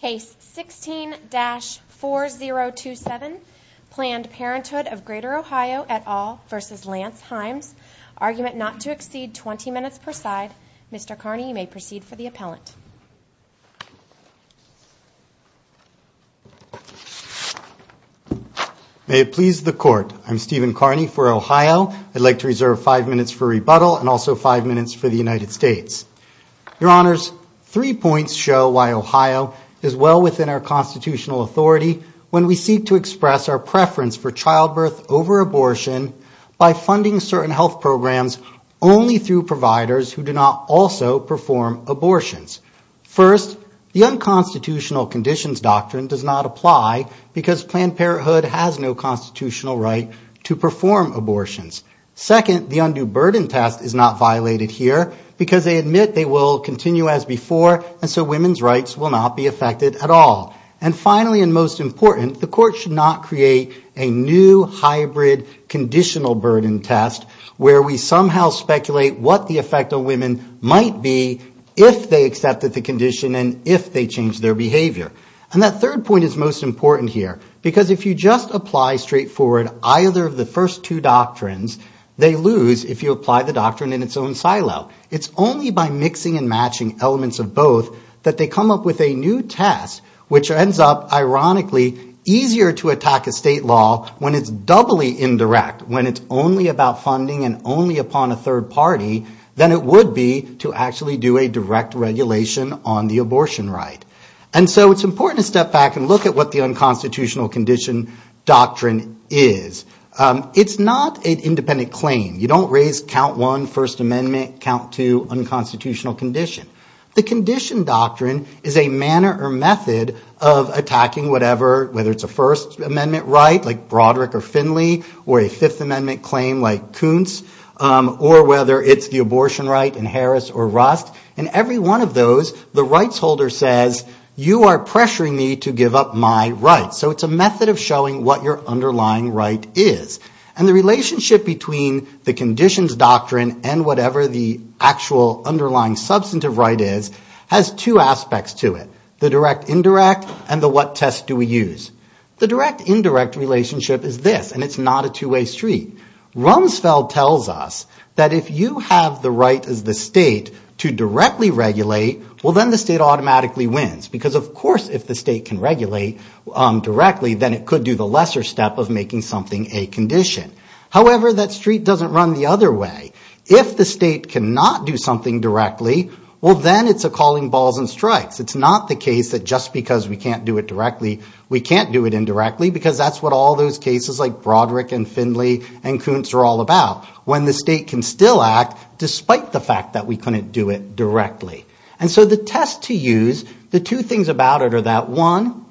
Case 16-4027, Planned Parenthood of Grtr OH et al v. Lance Himes. Argument not to exceed 20 minutes per side. Mr. Carney, you may proceed for the appellant. May it please the Court. I'm Stephen Carney for Ohio. I'd like to reserve five minutes for rebuttal and also five minutes for the United States. Your Honors, three points show why Ohio is well within our constitutional authority when we seek to express our preference for childbirth over abortion by funding certain health programs only through providers who do not also perform abortions. First, the unconstitutional conditions doctrine does not apply because Planned Parenthood has no constitutional right to perform abortions. Second, the undue burden test is not violated here because they admit they will continue as before and so women's rights will not be affected at all. And finally and most important, the Court should not create a new hybrid conditional burden test where we somehow speculate what the effect on women might be if they accepted the condition and if they changed their behavior. And that third point is most important here because if you just apply straightforward either of the first two doctrines, they lose if you apply the doctrine in its own silo. It's only by mixing and matching elements of both that they come up with a new test which ends up ironically easier to attack a state law when it's doubly indirect, when it's only about funding and only upon a third party than it would be to actually do a direct regulation on the abortion right. And so it's important to step back and look at what the unconstitutional condition doctrine is. It's not an independent claim. You don't raise count one, First Amendment, count two, unconstitutional condition. The condition doctrine is a manner or method of attacking whatever, whether it's a First Amendment right like Broderick or Finley or a Fifth Amendment claim like Kuntz or whether it's the abortion right in Harris or Rust. In every one of those, the rights holder says, you are pressuring me to give up my right. So it's a method of showing what your underlying right is. And the relationship between the conditions doctrine and whatever the actual underlying substantive right is has two aspects to it, the direct indirect and the what test do we use. The direct indirect relationship is this, and it's not a two-way street. Rumsfeld tells us that if you have the right as the state to directly regulate, well, then the state automatically wins. Because, of course, if the state can regulate directly, then it could do the lesser step of making something a condition. However, that street doesn't run the other way. If the state cannot do something directly, well, then it's a calling balls and strikes. It's not the case that just because we can't do it directly, we can't do it indirectly, because that's what all those cases like Broderick and Findley and Kuntz are all about, when the state can still act despite the fact that we couldn't do it directly. And so the test to use, the two things about it are that, one,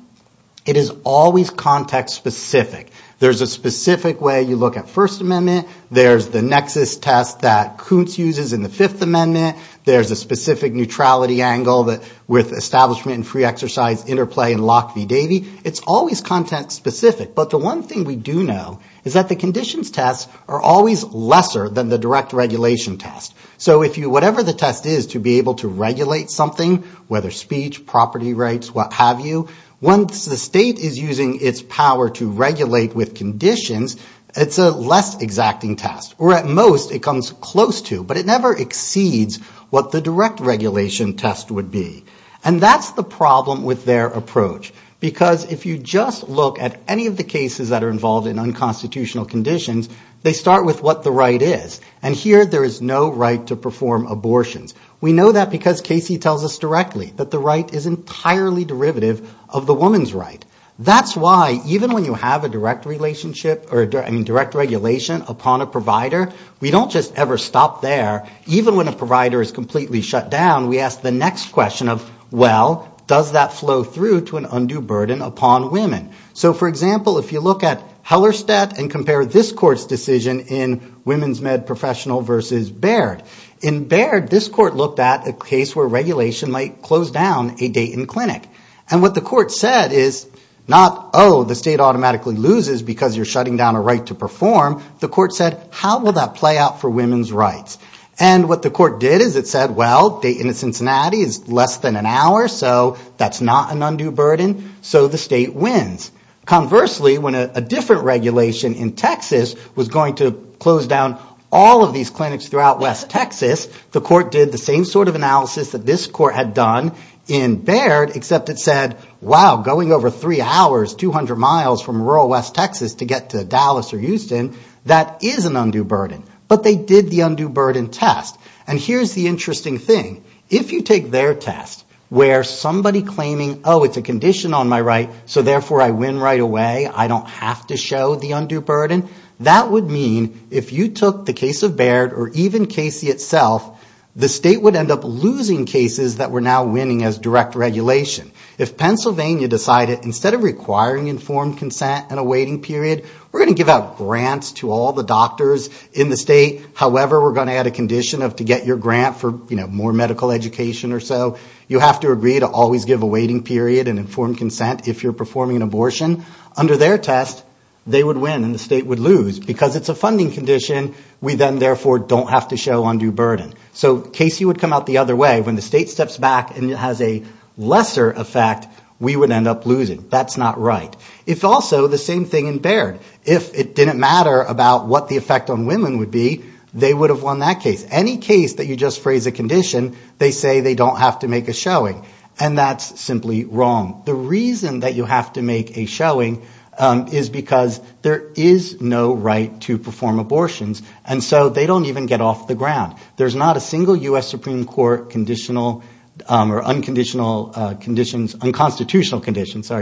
it is always context specific. There's a specific way you look at First Amendment. There's the nexus test that Kuntz uses in the Fifth Amendment. There's a specific neutrality angle with establishment and free exercise interplay in Locke v. Davey. It's always context specific. But the one thing we do know is that the conditions tests are always lesser than the direct regulation test. So whatever the test is to be able to regulate something, whether speech, property rights, what have you, once the state is using its power to regulate with conditions, it's a less exacting test. Or at most, it comes close to, but it never exceeds what the direct regulation test would be. And that's the problem with their approach. Because if you just look at any of the cases that are involved in unconstitutional conditions, they start with what the right is. And here there is no right to perform abortions. We know that because Casey tells us directly that the right is entirely derivative of the woman's right. That's why even when you have a direct relationship, I mean direct regulation upon a provider, we don't just ever stop there. Even when a provider is completely shut down, we ask the next question of, well, does that flow through to an undue burden upon women? So for example, if you look at Hellerstedt and compare this court's decision in Women's Med Professional versus Baird. In Baird, this court looked at a case where regulation might close down a day in clinic. And what the court said is not, oh, the state automatically loses because you're shutting down a right to perform. The court said, how will that play out for women's rights? And what the court did is it said, well, a day in Cincinnati is less than an hour, so that's not an undue burden. So the state wins. Conversely, when a different regulation in Texas was going to close down all of these clinics throughout west Texas, the court did the same sort of analysis that this court had done in Baird, except it said, wow, going over three hours, 200 miles from rural west Texas to get to Dallas or Houston, that is an undue burden. But they did the undue burden test. And here's the interesting thing. If you take their test, where somebody claiming, oh, it's a condition on my right, so therefore I win right away, I don't have to show the undue burden, that would mean if you took the case of Baird or even Casey itself, the state would end up losing cases that were now winning as direct regulation. If Pennsylvania decided instead of requiring informed consent and a waiting period, we're going to give out grants to all the doctors in the state, however we're going to add a condition to get your grant for more medical education or so, you have to agree to always give a waiting period and informed consent if you're performing an abortion. Under their test, they would win and the state would lose. Because it's a funding condition, we then therefore don't have to show undue burden. So Casey would come out the other way. When the state steps back and has a lesser effect, we would end up losing. That's not right. It's also the same thing in Baird. If it didn't matter about what the effect on women would be, they would have won that case. Any case that you just phrase a condition, they say they don't have to make a showing. And that's simply wrong. The reason that you have to make a showing is because there is no right to perform abortions, and so they don't even get off the ground. There's not a single U.S. Supreme Court conditional or unconstitutional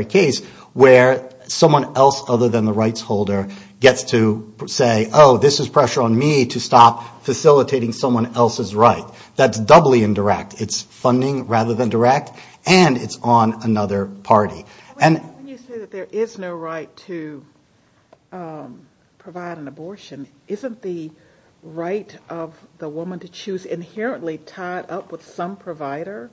case where someone else other than the rights holder gets to say, oh, this is pressure on me to stop facilitating someone else's right. That's doubly indirect. It's funding rather than direct, and it's on another party. When you say that there is no right to provide an abortion, isn't the right of the woman to choose inherently tied up with some provider?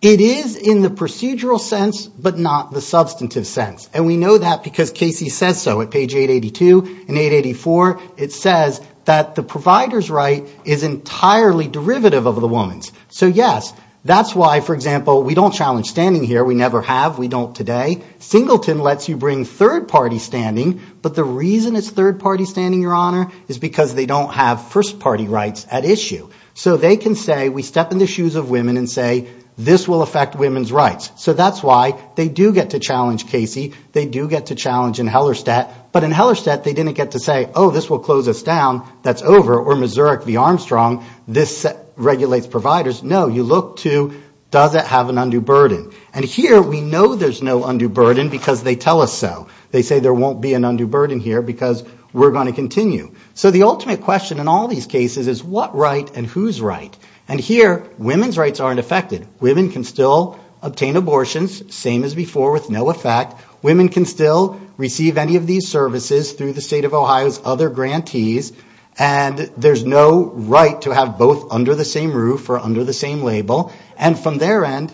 It is in the procedural sense, but not the substantive sense. And we know that because Casey says so at page 882 and 884. It says that the provider's right is entirely derivative of the woman's. So, yes, that's why, for example, we don't challenge standing here. We never have. We don't today. Singleton lets you bring third-party standing, but the reason it's third-party standing, Your Honor, is because they don't have first-party rights at issue. So they can say, we step in the shoes of women and say, this will affect women's rights. So that's why they do get to challenge Casey. They do get to challenge in Hellerstedt. But in Hellerstedt, they didn't get to say, oh, this will close us down. That's over. Or Missouri Armstrong, this regulates providers. No, you look to, does it have an undue burden? And here we know there's no undue burden because they tell us so. They say there won't be an undue burden here because we're going to continue. So the ultimate question in all these cases is what right and whose right? And here, women's rights aren't affected. Women can still obtain abortions, same as before, with no effect. Women can still receive any of these services through the State of Ohio's other grantees. And there's no right to have both under the same roof or under the same label. And from their end...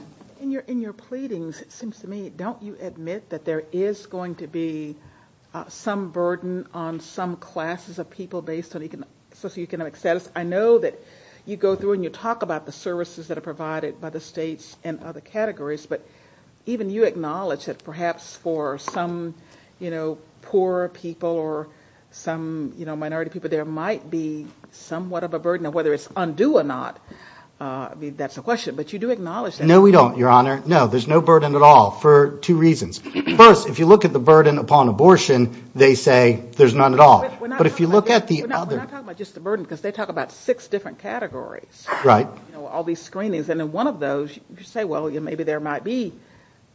In your pleadings, it seems to me, don't you admit that there is going to be some burden on some classes of people based on socioeconomic status? I know that you go through and you talk about the services that are provided by the states and other categories, but even you acknowledge that perhaps for some, you know, poor people or some minority people, there might be somewhat of a burden on whether it's undue or not. I mean, that's the question, but you do acknowledge that. No, we don't, Your Honor. No, there's no burden at all for two reasons. First, if you look at the burden upon abortion, they say there's none at all. But if you look at the other... We're not talking about just the burden, because they talk about six different categories. Right. You know, all these screenings, and in one of those, you say, well, maybe there might be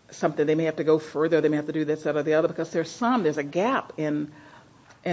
something, they may have to go further, they may have to do this, that, or the other, because there's some, there's a gap in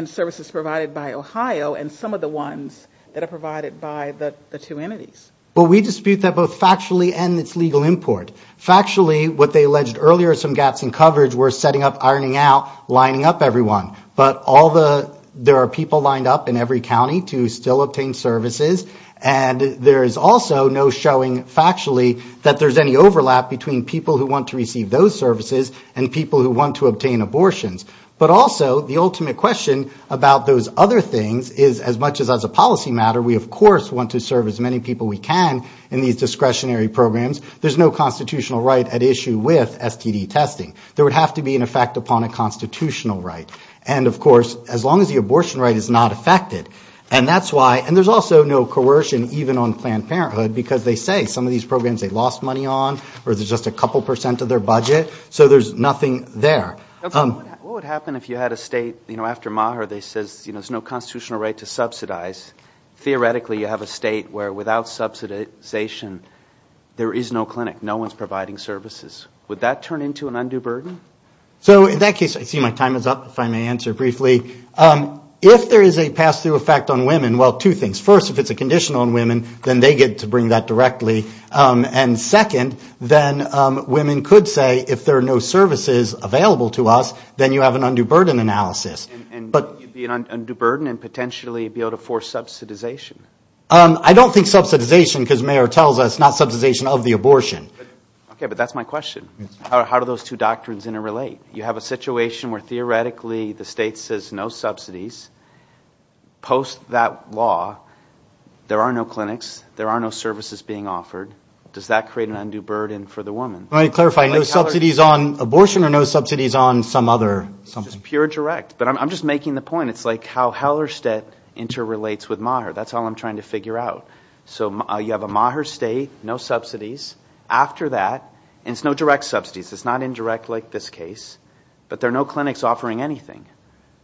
services provided by Ohio and some of the ones that are provided by the two entities. But we dispute that both factually and it's legal import. Factually, what they alleged earlier, some gaps in coverage, we're setting up, ironing out, lining up everyone. But all the, there are people lined up in every county to still obtain services, and there is also no showing factually that there's any overlap between people who want to receive those services and people who want to obtain abortions. But also, the ultimate question about those other things is, as much as as a policy matter, we of course want to serve as many people we can in these discretionary programs, there's no constitutional right at issue with STD testing. There would have to be an effect upon a constitutional right. And of course, as long as the abortion right is not affected, and that's why, and there's also no coercion even on Planned Parenthood, because they say some of these programs they lost money on or there's just a couple percent of their budget, so there's nothing there. What would happen if you had a state, you know, after Maher, they says, you know, there's no constitutional right to subsidize? Theoretically, you have a state where without subsidization, there is no clinic, no one's providing services. Would that turn into an undue burden? So in that case, I see my time is up, if I may answer briefly. If there is a pass-through effect on women, well, two things. First, if it's a conditional on women, then they get to bring that directly. And second, then women could say, if there are no services available to us, then you have an undue burden analysis. And be an undue burden and potentially be able to force subsidization? I don't think subsidization, because Maher tells us, not subsidization of the abortion. Okay, but that's my question. How do those two doctrines interrelate? You have a situation where theoretically the state says no subsidies. Post that law, there are no clinics, there are no services being offered. Does that create an undue burden for the woman? Let me clarify, no subsidies on abortion or no subsidies on some other? It's just pure direct. But I'm just making the point. It's like how Hellerstedt interrelates with Maher. That's all I'm trying to figure out. So you have a Maher state, no subsidies. After that, and it's no direct subsidies. It's not indirect like this case. But there are no clinics offering anything.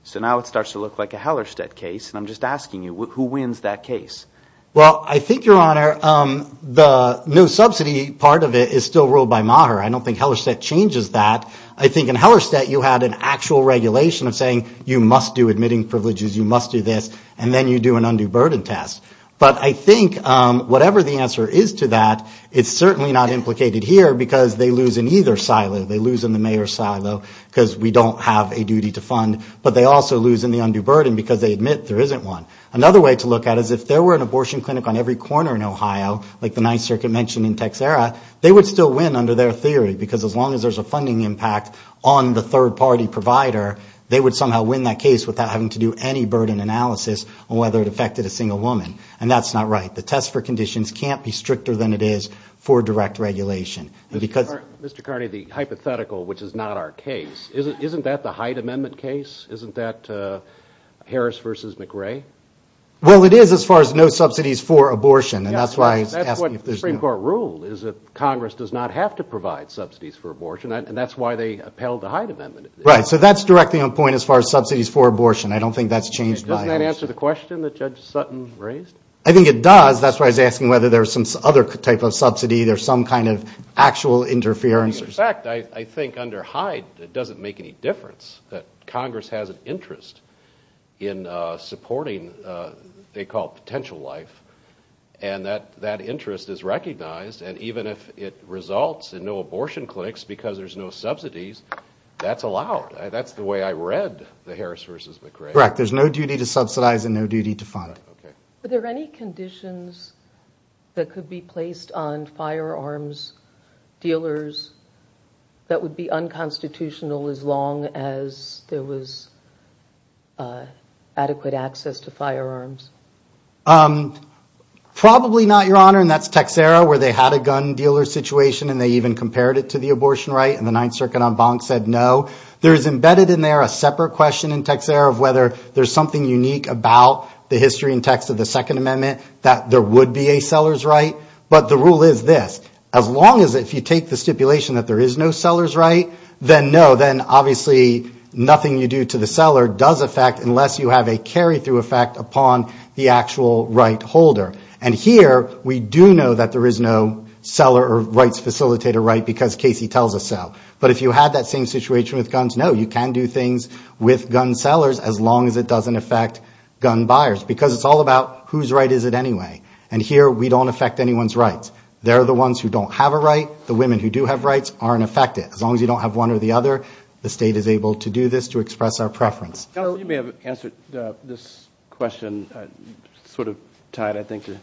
So now it starts to look like a Hellerstedt case. And I'm just asking you, who wins that case? Well, I think, Your Honor, the no subsidy part of it is still ruled by Maher. I don't think Hellerstedt changes that. I think in Hellerstedt you had an actual regulation of saying you must do admitting privileges, you must do this, and then you do an undue burden test. But I think whatever the answer is to that, it's certainly not implicated here because they lose in either silo. They lose in the Maher silo because we don't have a duty to fund. But they also lose in the undue burden because they admit there isn't one. Another way to look at it is if there were an abortion clinic on every corner in Ohio, like the Ninth Circuit mentioned in Texera, they would still win under their theory because as long as there's a funding impact on the third-party provider, they would somehow win that case without having to do any burden analysis on whether it affected a single woman. And that's not right. The test for conditions can't be stricter than it is for direct regulation. Mr. Carney, the hypothetical, which is not our case, isn't that the Hyde Amendment case? Isn't that Harris v. McRae? Well, it is as far as no subsidies for abortion. That's what the Supreme Court ruled is that Congress does not have to provide subsidies for abortion, and that's why they upheld the Hyde Amendment. Right. So that's directly on point as far as subsidies for abortion. I don't think that's changed. Doesn't that answer the question that Judge Sutton raised? I think it does. That's why I was asking whether there's some other type of subsidy, there's some kind of actual interference. In fact, I think under Hyde it doesn't make any difference, that Congress has an interest in supporting, they call it potential life, and that interest is recognized, and even if it results in no abortion clinics because there's no subsidies, that's allowed. That's the way I read the Harris v. McRae. Correct. There's no duty to subsidize and no duty to fund. Were there any conditions that could be placed on firearms dealers that would be unconstitutional as long as there was adequate access to firearms? Probably not, Your Honor, and that's Texera where they had a gun dealer situation and they even compared it to the abortion right, and the Ninth Circuit en banc said no. There is embedded in there a separate question in Texera of whether there's something unique about the history and text of the Second Amendment that there would be a seller's right, but the rule is this, as long as if you take the stipulation that there is no seller's right, then no, then obviously nothing you do to the seller does affect unless you have a carry-through effect upon the actual right holder, and here we do know that there is no seller or rights facilitator right because Casey tells us so, but if you had that same situation with guns, no, you can do things with gun sellers as long as it doesn't affect gun buyers because it's all about whose right is it anyway, and here we don't affect anyone's rights. They're the ones who don't have a right. The women who do have rights aren't affected. As long as you don't have one or the other, the state is able to do this to express our preference. You may have answered this question sort of tied I think to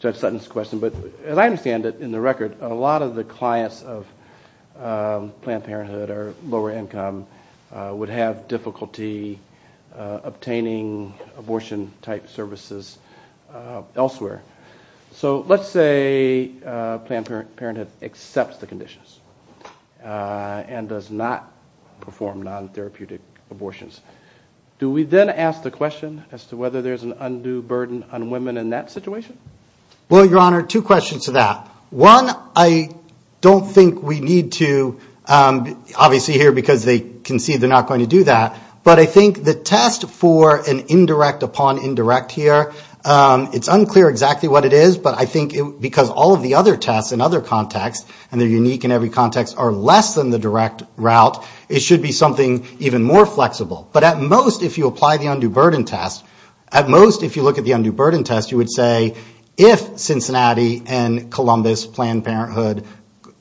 Judge Sutton's question, but as I understand it in the record, a lot of the clients of Planned Parenthood or lower income would have difficulty obtaining abortion-type services elsewhere. So let's say Planned Parenthood accepts the conditions and does not perform non-therapeutic abortions. Do we then ask the question as to whether there's an undue burden on women in that situation? Well, Your Honor, two questions to that. One, I don't think we need to, obviously here because they concede they're not going to do that, but I think the test for an indirect upon indirect here, it's unclear exactly what it is, but I think because all of the other tests in other contexts, and they're unique in every context, are less than the direct route, it should be something even more flexible. But at most if you apply the undue burden test, at most if you look at the undue burden test, you would say if Cincinnati and Columbus Planned Parenthood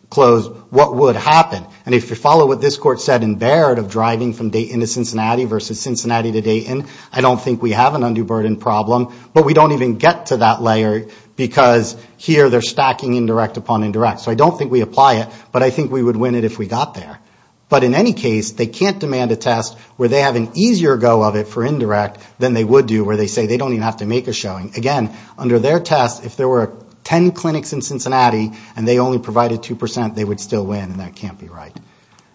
closed, what would happen? And if you follow what this Court said in Baird of driving from Dayton to Cincinnati versus Cincinnati to Dayton, I don't think we have an undue burden problem, but we don't even get to that layer because here they're stacking indirect upon indirect. So I don't think we apply it, but I think we would win it if we got there. But in any case, they can't demand a test where they have an easier go of it for indirect than they would do where they say they don't even have to make a showing. Again, under their test, if there were 10 clinics in Cincinnati and they only provided 2%, they would still win, and that can't be right.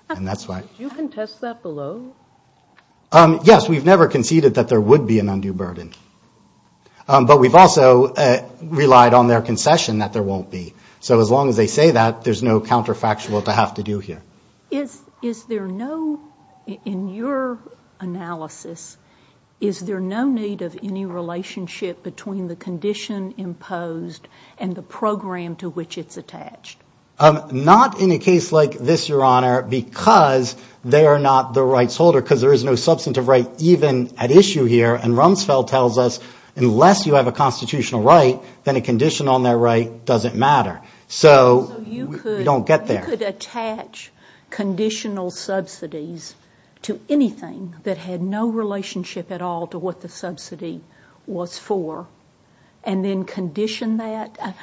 And that's why. Did you contest that below? Yes, we've never conceded that there would be an undue burden. But we've also relied on their concession that there won't be. So as long as they say that, there's no counterfactual to have to do here. Is there no, in your analysis, is there no need of any relationship between the condition imposed and the program to which it's attached? Not in a case like this, Your Honor, because they are not the rights holder. Because there is no substantive right even at issue here. And Rumsfeld tells us, unless you have a constitutional right, then a condition on that right doesn't matter. So we don't get there. So you could attach conditional subsidies to anything that had no relationship at all to what the subsidy was for, and then condition that?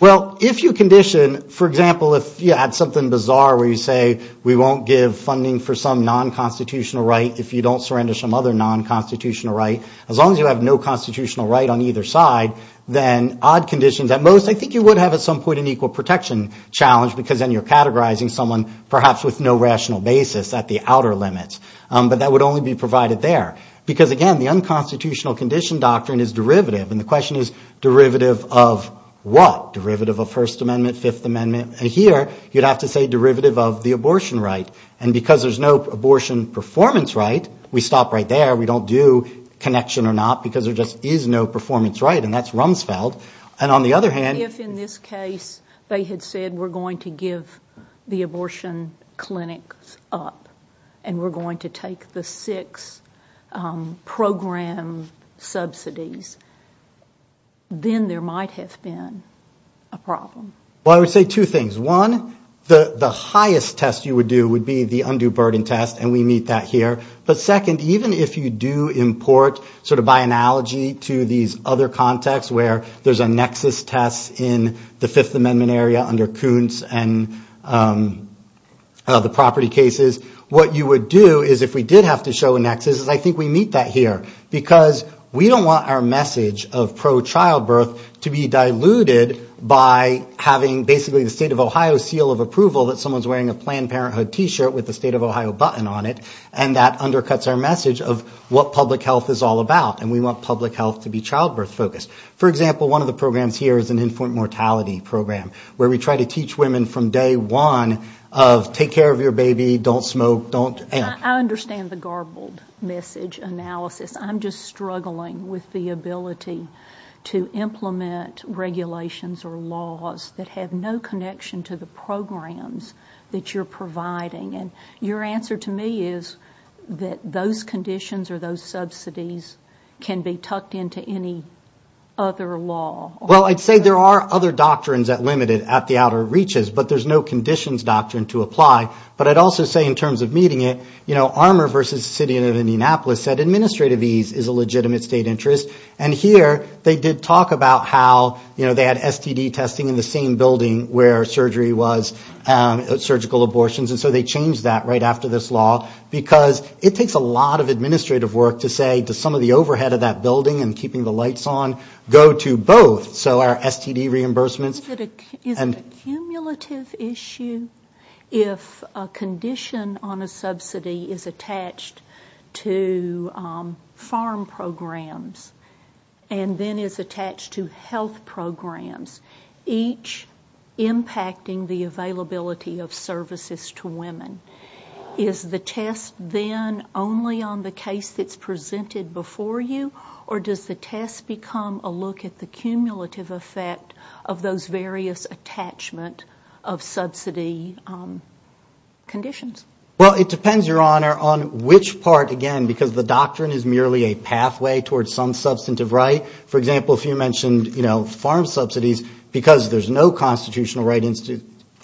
Well, if you condition, for example, if you add something bizarre where you say, we won't give funding for some non-constitutional right if you don't surrender some other non-constitutional right, as long as you have no constitutional right on either side, then odd conditions, at most, I think you would have at some point an equal protection challenge, because then you're categorizing someone perhaps with no rational basis at the outer limits. But that would only be provided there. Because, again, the unconstitutional condition doctrine is derivative, and the question is derivative of what? Derivative of First Amendment, Fifth Amendment? Here, you'd have to say derivative of the abortion right. And because there's no abortion performance right, we stop right there, we don't do connection or not, because there just is no performance right, and that's Rumsfeld. And on the other hand... If, in this case, they had said, we're going to give the abortion clinics up, and we're going to take the six program subsidies, then there might have been a problem. Well, I would say two things. One, the highest test you would do would be the undue burden test, and we meet that here. But second, even if you do import, sort of by analogy, to these other contexts where there's a nexus test in the Fifth Amendment area under Kuntz and the property cases, what you would do is, if we did have to show a nexus, is I think we meet that here. Because we don't want our message of pro-childbirth to be diluted by having basically the State of Ohio seal of approval that someone's wearing a Planned Parenthood T-shirt with the State of Ohio button on it, and that undercuts our message of what public health is all about. And we want public health to be childbirth-focused. For example, one of the programs here is an infant mortality program, where we try to teach women from day one of, take care of your baby, don't smoke, don't... I understand the garbled message analysis. I'm just struggling with the ability to implement regulations or laws that have no connection to the programs that you're providing. And your answer to me is that those conditions or those subsidies can be tucked into any other law. Well, I'd say there are other doctrines that limit it at the outer reaches, but there's no conditions doctrine to apply. But I'd also say in terms of meeting it, you know, Armour versus the city of Indianapolis said administrative ease is a legitimate state interest. And here, they did talk about how, you know, they had STD testing in the same building where surgery was, surgical abortions, and so they changed that right after this law. Because it takes a lot of administrative work to say, does some of the overhead of that building and keeping the lights on go to both, so our STD reimbursements... Is it a cumulative issue if a condition on a subsidy is attached to farm programs and then is attached to health programs, each impacting the availability of services to women? Is the test then only on the case that's presented before you, or does the test become a look at the cumulative effect of those various attachment of subsidy conditions? Well, it depends, Your Honor, on which part, again, because the doctrine is merely a pathway towards some substantive right. For example, if you mentioned, you know, farm subsidies, because there's no constitutional right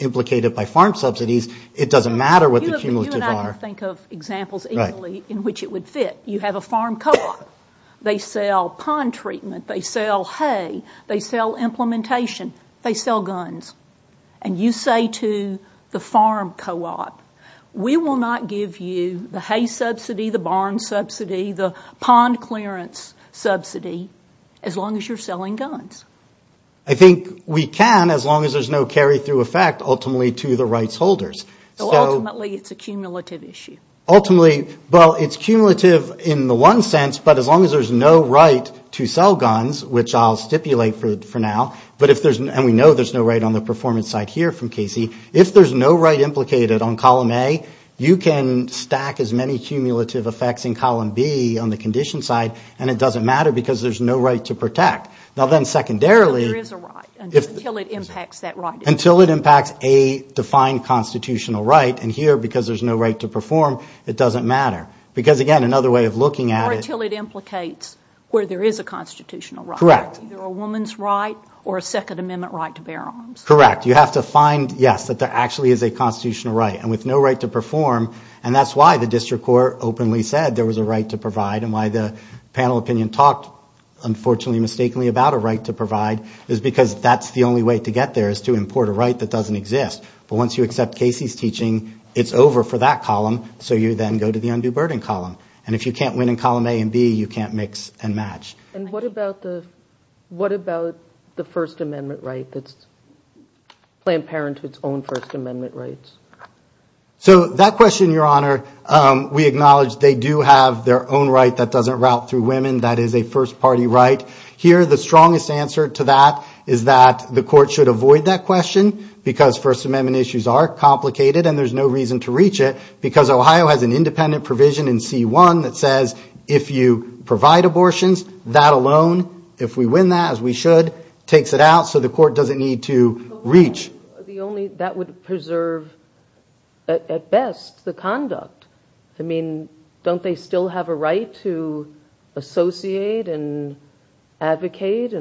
implicated by farm subsidies, it doesn't matter what the cumulative are. You and I can think of examples easily in which it would fit. You have a farm co-op. They sell pond treatment, they sell hay, they sell implementation, they sell guns. And you say to the farm co-op, we will not give you the hay subsidy, the barn subsidy, the pond clearance subsidy, as long as you're selling guns. I think we can, as long as there's no carry-through effect, ultimately to the rights holders. So ultimately it's a cumulative issue? Ultimately, well, it's cumulative in the one sense, but as long as there's no right to sell guns, which I'll stipulate for now, and we know there's no right on the performance side here from Casey, if there's no right implicated on column A, you can stack as many cumulative effects in column B on the condition side, and it doesn't matter because there's no right to protect. Now then secondarily, until it impacts a defined constitutional right, and here because there's no right to perform, it doesn't matter. Because again, another way of looking at it... Or until it implicates where there is a constitutional right. Correct. Either a woman's right or a Second Amendment right to bear arms. Correct. You have to find, yes, that there actually is a constitutional right, and with no right to perform, and that's why the district court openly said there was a right to provide, and why the panel opinion talked, unfortunately, mistakenly about a right to provide, is because that's the only way to get there is to import a right that doesn't exist. But once you accept Casey's teaching, it's over for that column, so you then go to the undue burden column. And if you can't win in column A and B, you can't mix and match. And what about the First Amendment right? Planned Parenthood's own First Amendment rights? So that question, Your Honor, we acknowledge they do have their own right that doesn't route through women, that is a first-party right. Here, the strongest answer to that is that the court should avoid that question because First Amendment issues are complicated and there's no reason to reach it because Ohio has an independent provision in C-1 that says if you provide abortions, that alone, if we win that, as we should, takes it out so the court doesn't need to reach. But that would preserve, at best, the conduct. I mean, don't they still have a right to associate and advocate?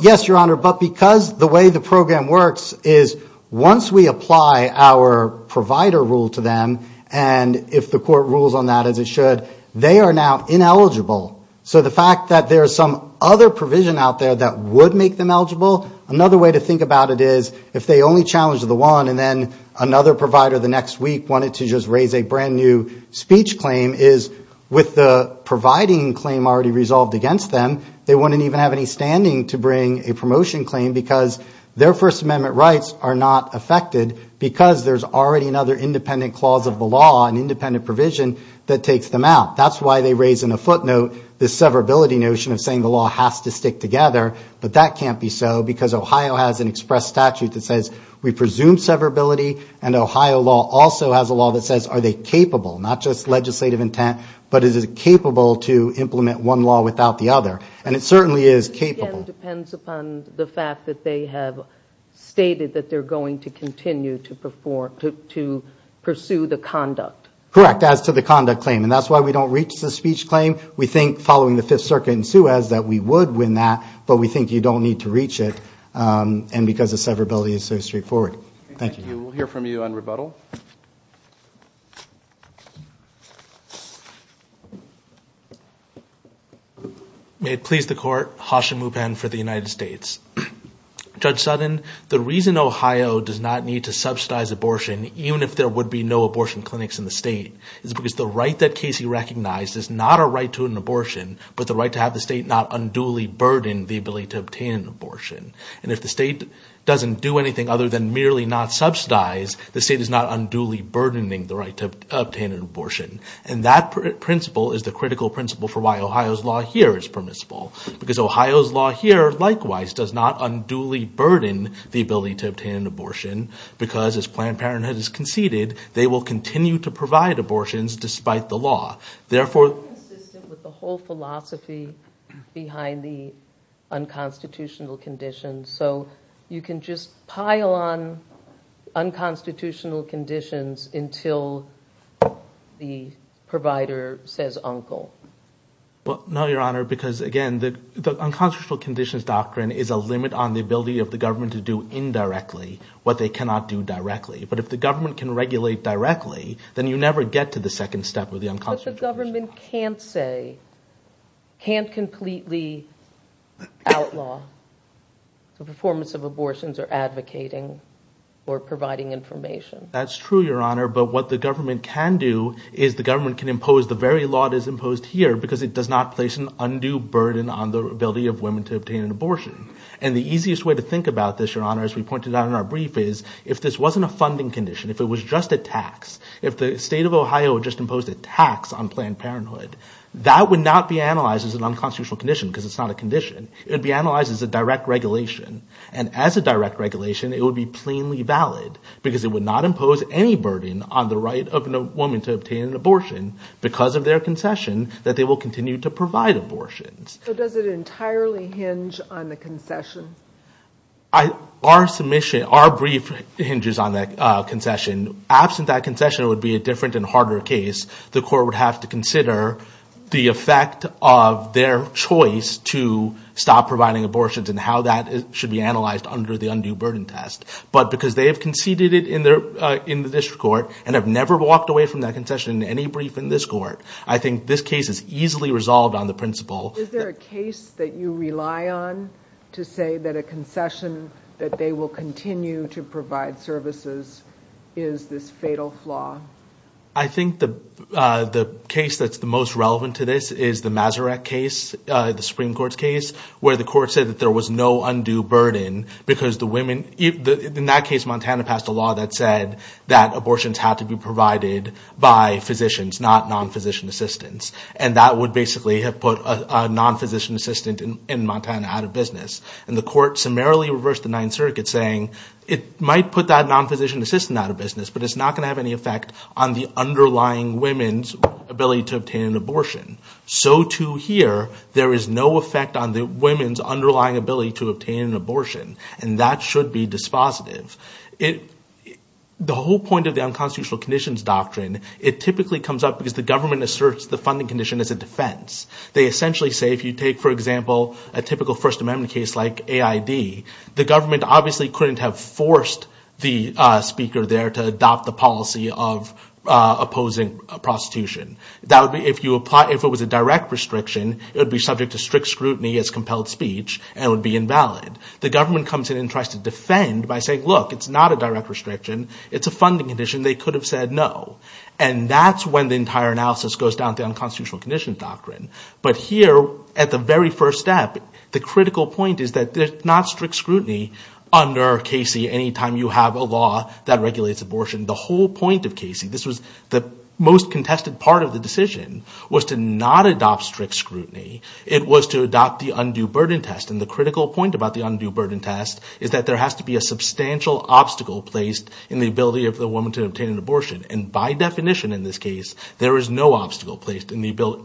Yes, Your Honor, but because the way the program works is once we apply our provider rule to them, and if the court rules on that as it should, they are now ineligible. So the fact that there's some other provision out there that would make them eligible, another way to think about it is, if they only challenged the one and then another provider the next week wanted to just raise a brand-new speech claim, is with the providing claim already resolved against them, they wouldn't even have any standing to bring a promotion claim because their First Amendment rights are not affected because there's already another independent clause of the law and independent provision that takes them out. That's why they raise in a footnote the severability notion of saying the law has to stick together, but that can't be so because Ohio has an express statute that says we presume severability and Ohio law also has a law that says are they capable, not just legislative intent, but is it capable to implement one law without the other. And it certainly is capable. It again depends upon the fact that they have stated that they're going to continue to pursue the conduct. Correct, as to the conduct claim. And that's why we don't reach the speech claim. We think following the Fifth Circuit in Suez that we would win that, but we think you don't need to reach it and because the severability is so straightforward. Thank you. May it please the Court. Judge Sutton, the reason Ohio does not need to subsidize abortion, even if there would be no abortion clinics in the state, is because the right that Casey recognized is not a right to an abortion, but the right to have the state not unduly burden the ability to obtain an abortion. And if the state doesn't do anything other than merely not subsidize, the state is not unduly burdening the right to obtain an abortion. And that principle is the critical principle for why Ohio's law here is permissible, because Ohio's law here, likewise, does not unduly burden the ability to obtain an abortion, because as Planned Parenthood has conceded, they will continue to provide abortions despite the law. Therefore... ...consistent with the whole philosophy behind the unconstitutional conditions. So you can just pile on unconstitutional conditions until the provider says uncle. Well, no, Your Honor, because again, the unconstitutional conditions doctrine is a limit on the ability of the government to do indirectly what they cannot do directly. But if the government can regulate directly, then you never get to the second step of the unconstitutional conditions. But the government can't say, can't completely outlaw the performance of abortions or advocating or providing information. That's true, Your Honor, but what the government can do is the government can impose the very law that is imposed here because it does not place an undue burden on the ability of women to obtain an abortion. And the easiest way to think about this, Your Honor, as we pointed out in our brief, is if this wasn't a funding condition, if it was just a tax, if the state of Ohio just imposed a tax on Planned Parenthood, that would not be analyzed as an unconstitutional condition because it's not a condition. It would be analyzed as a direct regulation. And as a direct regulation, it would be plainly valid because it would not impose any burden on the right of a woman to obtain an abortion because of their concession that they will continue to provide abortions. So does it entirely hinge on the concession? Our submission, our brief hinges on that concession. Absent that concession, it would be a different and harder case. The court would have to consider the effect of their choice to stop providing abortions and how that should be analyzed under the undue burden test. But because they have conceded it in the district court and have never walked away from that concession in any brief in this court, I think this case is easily resolved on the principle... Is there a case that you rely on to say that a concession that they will continue to provide services is this fatal flaw? I think the case that's the most relevant to this is the Maserat case, the Supreme Court's case, where the court said that there was no undue burden because the women... In that case, Montana passed a law that said that abortions had to be provided by physicians, not non-physician assistants. And that would basically have put a non-physician assistant in Montana out of business. And the court summarily reversed the Ninth Circuit saying it might put that non-physician assistant out of business, but it's not going to have any effect on the underlying women's ability to obtain an abortion. So to here, there is no effect on the women's underlying ability to obtain an abortion, and that should be dispositive. The whole point of the unconstitutional conditions doctrine, it typically comes up because the government asserts the funding condition as a defense. They essentially say if you take, for example, a typical First Amendment case like AID, the government obviously couldn't have forced the speaker there to adopt the policy of opposing prostitution. If it was a direct restriction, it would be subject to strict scrutiny as compelled speech and would be invalid. The government comes in and tries to defend by saying, look, it's not a direct restriction. It's a funding condition. They could have said no. And that's when the entire analysis goes down to the unconstitutional conditions doctrine. But here, at the very first step, the critical point is that there's not strict scrutiny under Casey anytime you have a law that regulates abortion. The whole point of Casey, this was the most contested part of the decision, was to not adopt strict scrutiny. It was to adopt the undue burden test. And the critical point about the undue burden test is that there has to be a substantial obstacle placed in the ability of the woman to obtain an abortion. And by definition in this case, there is no obstacle placed in the ability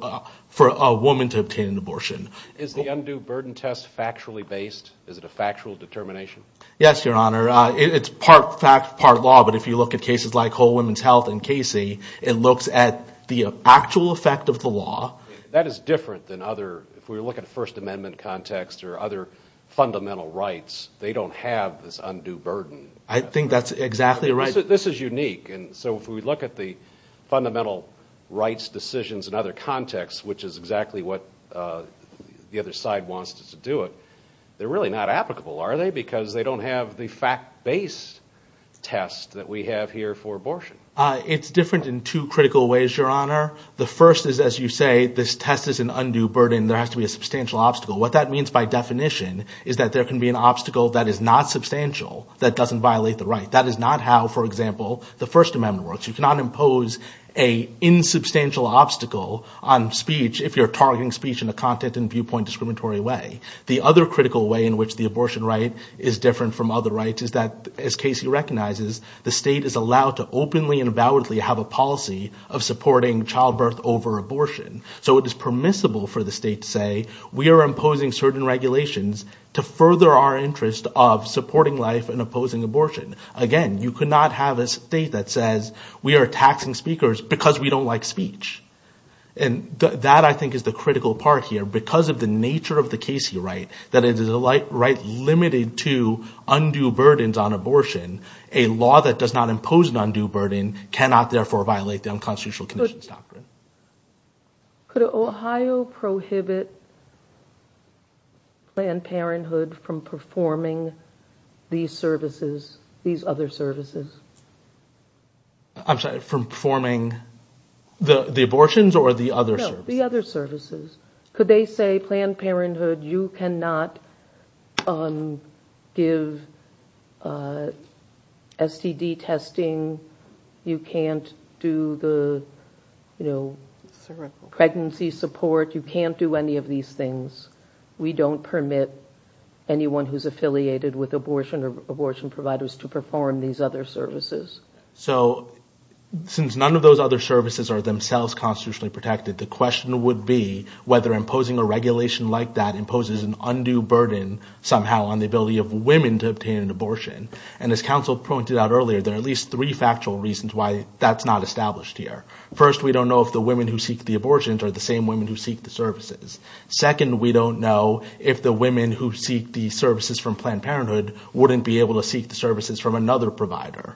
for a woman to obtain an abortion. Is the undue burden test factually based? Is it a factual determination? Yes, Your Honor. It's part fact, part law. But if you look at cases like Whole Woman's Health and Casey, it looks at the actual effect of the law. That is different than other, if we look at the First Amendment context or other fundamental rights, they don't have this undue burden. I think that's exactly right. This is unique. So if we look at the fundamental rights decisions in other contexts, which is exactly what the other side wants us to do, they're really not applicable, are they? Because they don't have the fact-based test that we have here for abortion. It's different in two critical ways, Your Honor. The first is, as you say, this test is an undue burden. There has to be a substantial obstacle. What that means by definition is that there can be an obstacle that is not substantial that doesn't violate the right. That is not how, for example, the First Amendment works. You cannot impose an insubstantial obstacle on speech if you're targeting speech in a content and viewpoint discriminatory way. The other critical way in which the abortion right is different from other rights is that, as Casey recognizes, the state is allowed to openly and validly have a policy of supporting childbirth over abortion. So it is permissible for the state to say, we are imposing certain regulations to further our interest of supporting life and opposing abortion. Again, you cannot have a state that says, we are taxing speakers because we don't like speech. And that, I think, is the critical part here. Because of the nature of the Casey right, that it is a right limited to undue burdens on abortion, a law that does not impose an undue burden cannot, therefore, violate the unconstitutional conditions doctrine. Could Ohio prohibit Planned Parenthood from performing these other services? I'm sorry, from performing the abortions or the other services? No, the other services. Could they say, Planned Parenthood, you cannot give STD testing, you can't do the pregnancy support, you can't do any of these things. We don't permit anyone who is affiliated with abortion or abortion providers to perform these other services. So, since none of those other services are themselves constitutionally protected, the question would be whether imposing a regulation like that imposes an undue burden somehow on the ability of women to obtain an abortion. And as counsel pointed out earlier, there are at least three factual reasons why that's not established here. First, we don't know if the women who seek the abortions are the same women who seek the services. Second, we don't know if the women who seek the services from Planned Parenthood wouldn't be able to seek the services from another provider.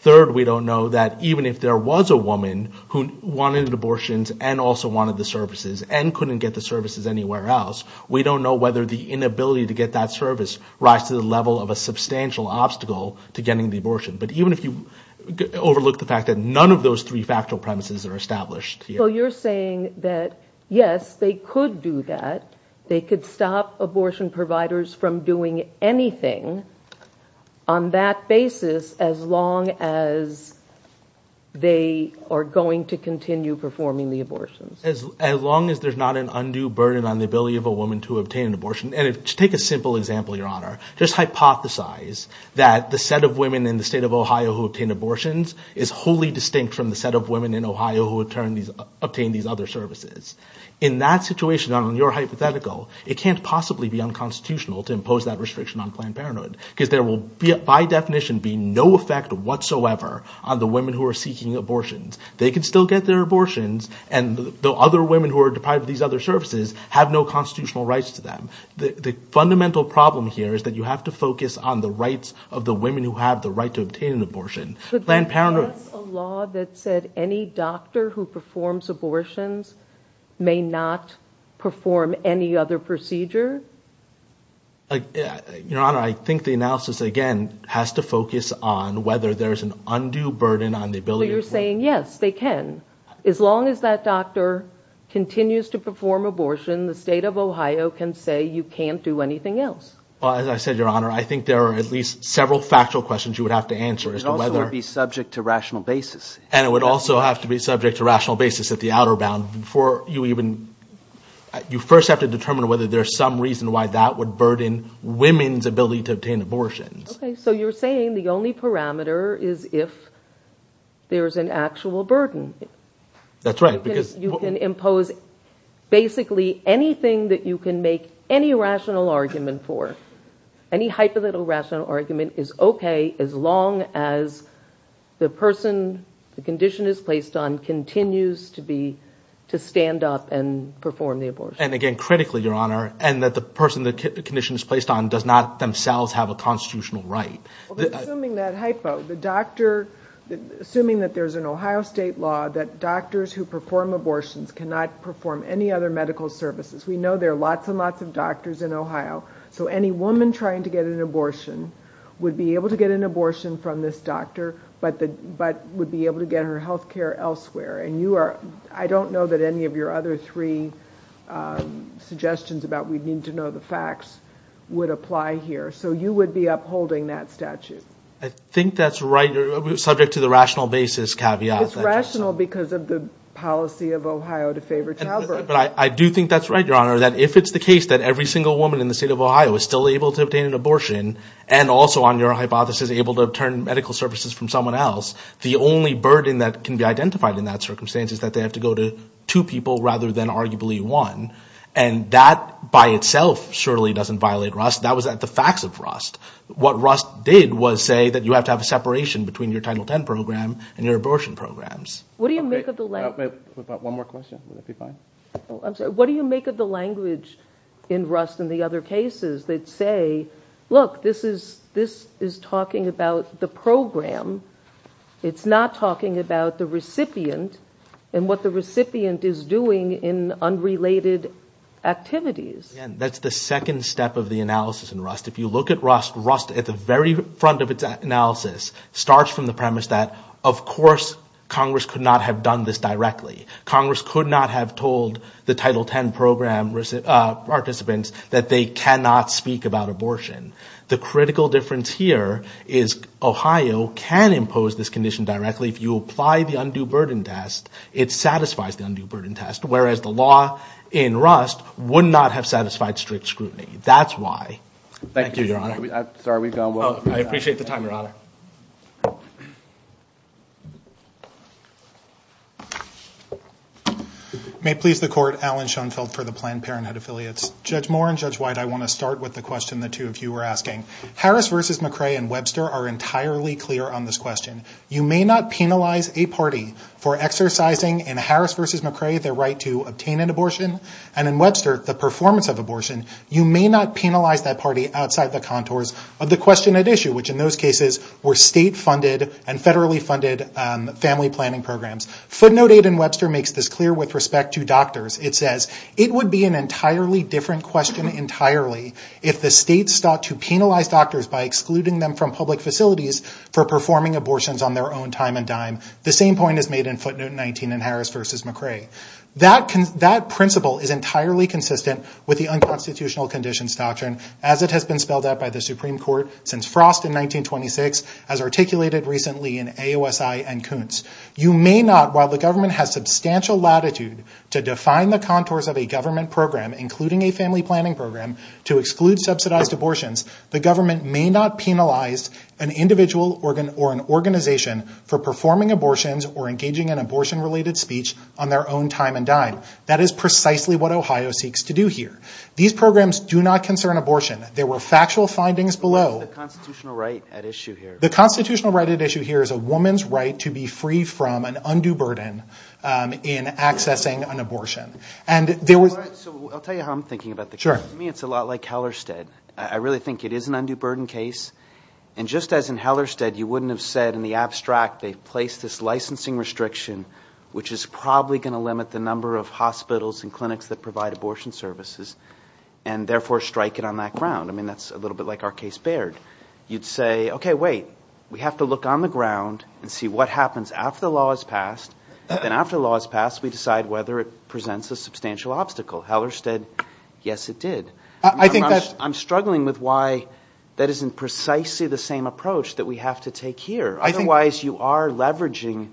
Third, we don't know that even if there was a woman who wanted abortions and also wanted the services and couldn't get the services anywhere else, we don't know whether the inability to get that service rise to the level of a substantial obstacle to getting the abortion. But even if you overlook the fact that none of those three factual premises are established here. So you're saying that, yes, they could do that, they could stop abortion providers from doing anything on that basis as long as they are going to continue performing the abortions. As long as there's not an undue burden on the ability of a woman to obtain an abortion. And to take a simple example, Your Honor, just hypothesize that the set of women in the state of Ohio who obtain abortions is wholly distinct from the set of women in Ohio who obtain these other services. In that situation, on your hypothetical, it can't possibly be unconstitutional to impose that restriction on Planned Parenthood because there will, by definition, be no effect whatsoever on the women who are seeking abortions. They can still get their abortions, and the other women who are deprived of these other services have no constitutional rights to them. The fundamental problem here is that you have to focus on the rights of the women who have the right to obtain an abortion. But that's a law that said any doctor who performs abortions may not perform any other procedure? Your Honor, I think the analysis, again, has to focus on whether there's an undue burden on the ability... So you're saying, yes, they can. As long as that doctor continues to perform abortions, the state of Ohio can say you can't do anything else. Well, as I said, Your Honor, I think there are at least several factual questions you would have to answer as to whether... It also would be subject to rational basis. And it would also have to be subject to rational basis at the outer bound before you even... You first have to determine whether there's some reason why that would burden women's ability to obtain abortions. Okay, so you're saying the only parameter is if there's an actual burden. That's right, because... You can impose basically anything that you can make any rational argument for. Any hypothetical rational argument is okay as long as the person the condition is placed on continues to stand up and perform the abortion. And again, critically, Your Honor, and that the person the condition is placed on does not themselves have a constitutional right. Assuming that hypo, the doctor... Assuming that there's an Ohio state law that doctors who perform abortions cannot perform any other medical services. We know there are lots and lots of doctors in Ohio. So any woman trying to get an abortion would be able to get an abortion from this doctor but would be able to get her health care elsewhere. And you are... I don't know that any of your other three suggestions about we need to know the facts would apply here. So you would be upholding that statute. I think that's right. You're subject to the rational basis caveat. It's rational because of the policy of Ohio to favor childbirth. But I do think that's right, Your Honor, that if it's the case that every single woman in the state of Ohio is still able to obtain an abortion and also on your hypothesis able to obtain medical services from someone else the only burden that can be identified in that circumstance is that they have to go to two people rather than arguably one. And that by itself surely doesn't violate Rust. That was the facts of Rust. What Rust did was say that you have to have a separation between your Title X program and your abortion programs. One more question. Would that be fine? I'm sorry. What do you make of the language in Rust and the other cases that say, look, this is talking about the program. It's not talking about the recipient and what the recipient is doing in unrelated activities. That's the second step of the analysis in Rust. If you look at Rust, Rust at the very front of its analysis starts from the premise that, of course, Congress could not have done this directly. Congress could not have told the Title X program participants that they cannot speak about abortion. The critical difference here is Ohio can speak about abortion and impose this condition directly. If you apply the undue burden test, it satisfies the undue burden test. Whereas the law in Rust would not have satisfied strict scrutiny. That's why. Thank you, Your Honor. I appreciate the time, Your Honor. May it please the Court, Alan Schoenfeld for the Planned Parenthood Affiliates. Judge Moore and Judge White, I want to start with the question the two of you were asking. Harris v. McCrae and Webster are entirely clear on this question. You may not penalize a party for exercising, in Harris v. McCrae, their right to obtain an abortion, and in Webster, the performance of abortion. You may not penalize that party outside the contours of the question at issue, which in those cases were state-funded and federally-funded family planning programs. Footnote 8 in Webster makes this clear with respect to doctors. It says, it would be an entirely different question entirely if the states sought to penalize doctors by excluding them from public facilities for performing abortions on their own time and dime. The same point is made in footnote 19 in Harris v. McCrae. That principle is entirely consistent with the unconstitutional conditions doctrine as it has been spelled out by the Supreme Court since Frost in 1926, as articulated recently in AOSI and Kuntz. You may not, while the government has substantial latitude to define the contours of a government program, including a family planning program, to exclude subsidized abortions, the government may not penalize an individual or an organization for performing abortions or engaging in abortion-related speech on their own time and dime. That is precisely what Ohio seeks to do here. These programs do not concern abortion. There were factual findings below. The constitutional right at issue here is a woman's right to be free from an undue burden in accessing an abortion. I'll tell you how I'm thinking about the case. To me it's a lot like Hellerstedt. I really think it is an undue burden case. Just as in Hellerstedt, you wouldn't have said in the abstract they've placed this licensing restriction which is probably going to limit the number of hospitals and clinics that provide abortion services and therefore strike it on that ground. That's a little bit like our case Baird. You'd say, okay, wait, we have to look on the ground and see what happens after the law is passed. Then after the law is passed, we decide whether it presents a substantial obstacle. Hellerstedt, yes it did. I'm struggling with why that isn't precisely the same approach that we have to take here. Otherwise you are leveraging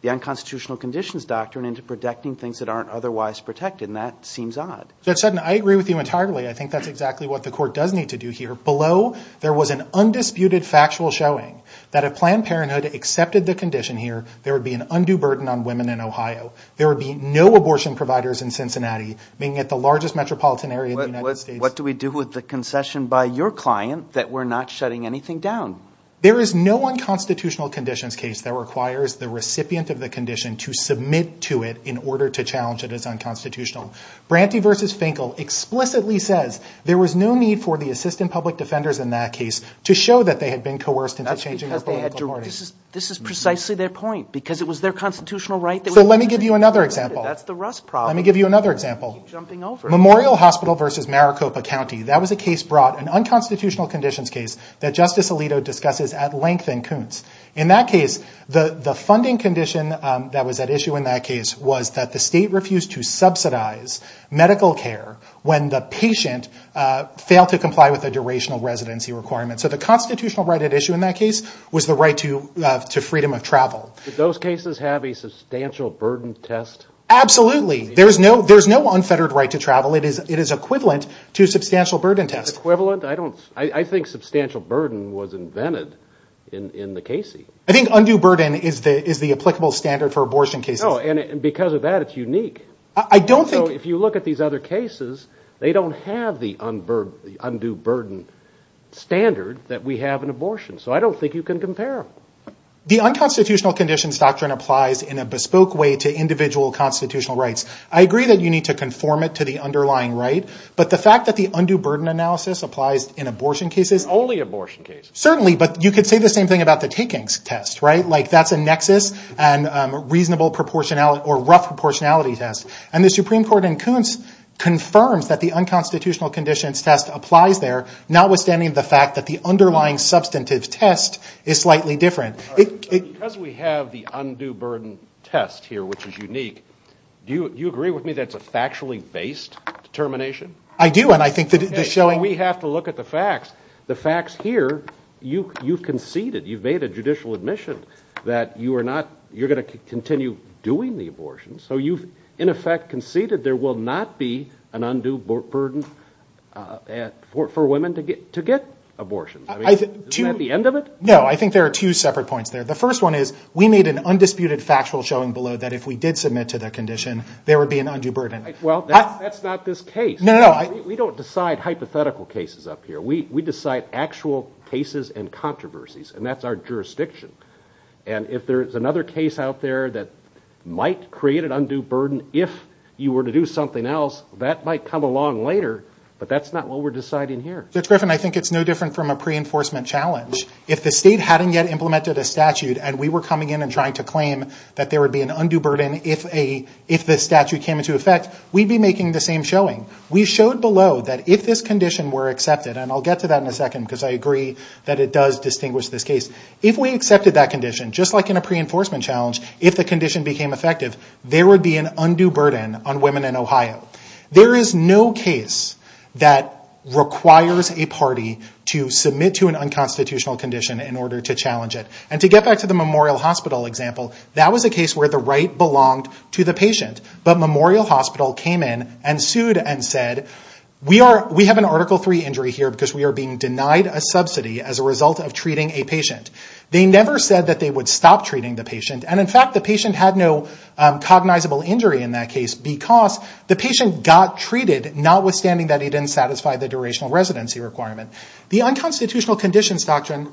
the unconstitutional conditions doctrine into protecting things that aren't otherwise protected, and that seems odd. I agree with you entirely. I think that's exactly what the court does need to do here. Below, there was an undisputed factual showing that if Planned Parenthood accepted the condition here, there would be an undue burden on women in Ohio. There would be no abortion providers in Cincinnati, being at the largest metropolitan area in the United States. What do we do with the concession by your client that we're not shutting anything down? There is no unconstitutional conditions case that requires the recipient of the condition to submit to it in order to challenge it as unconstitutional. Branty v. Finkel explicitly says there was no need for the assistant public defenders in that case to show that they had been coerced into changing their political parties. This is precisely their point, because it was their constitutional right. Let me give you another example. Memorial Hospital v. Maricopa County, that was a case brought, an unconstitutional conditions case that Justice Alito discusses at length in Kuntz. In that case, the funding condition that was at issue in that case was that the state refused to subsidize medical care when the patient failed to comply with a durational residency requirement. So the constitutional right at issue in that case was the right to freedom of travel. Did those cases have a substantial burden test? Absolutely. There is no unfettered right to travel. It is equivalent to a substantial burden test. I think substantial burden was invented in the Casey. I think undue burden is the applicable standard for abortion cases. Because of that, it is unique. If you look at these other cases, they don't have the undue burden standard that we have in abortion. So I don't think you can compare them. The unconstitutional conditions doctrine applies in a bespoke way to individual constitutional rights. I agree that you need to conform it to the underlying right, but the fact that the undue burden analysis applies in abortion cases... Only abortion cases. Certainly, but you could say the same thing about the takings test. That is a nexus and rough proportionality test. The Supreme Court in Kuntz confirms that the unconstitutional conditions test applies there, notwithstanding the fact that the underlying substantive test is slightly different. Because we have the undue burden test here, which is unique, do you agree with me that it is a factually based determination? I do. We have to look at the facts. The facts here, you have conceded. You have made a judicial admission that you are going to continue doing the abortions. So you have in effect conceded that there will not be an undue burden for women to get abortions. Isn't that the end of it? No, I think there are two separate points there. The first one is, we made an undisputed factual showing below that if we did submit to that condition, there would be an undue burden. Well, that is not this case. We don't decide hypothetical cases up here. We decide actual cases and controversies, and that is our jurisdiction. And if there is another case out there that might create an undue burden if you were to do something else, that might come along later, but that is not what we are deciding here. Judge Griffin, I think it is no different from a pre-enforcement challenge. If the state hadn't yet implemented a statute and we were coming in and trying to claim that there would be an undue burden if the statute came into effect, we would be making the same showing. We showed below that if this condition were accepted, and I will get to that in a second because I agree that it does distinguish this case. If we accepted that condition, just like in a pre-enforcement challenge, if the condition became effective, there would be an undue burden on women in Ohio. There is no case that requires a party to submit to an unconstitutional condition in order to challenge it. And to get back to the Memorial Hospital example, that was a case where the right belonged to the patient, but Memorial Hospital came in and sued and said, we have an Article III injury here because we are being denied a subsidy as a result of treating a patient. They never said that they would stop treating the patient, and in fact the patient had no cognizable injury in that case because the patient got treated, notwithstanding that he didn't satisfy the durational residency requirement. The unconstitutional conditions doctrine,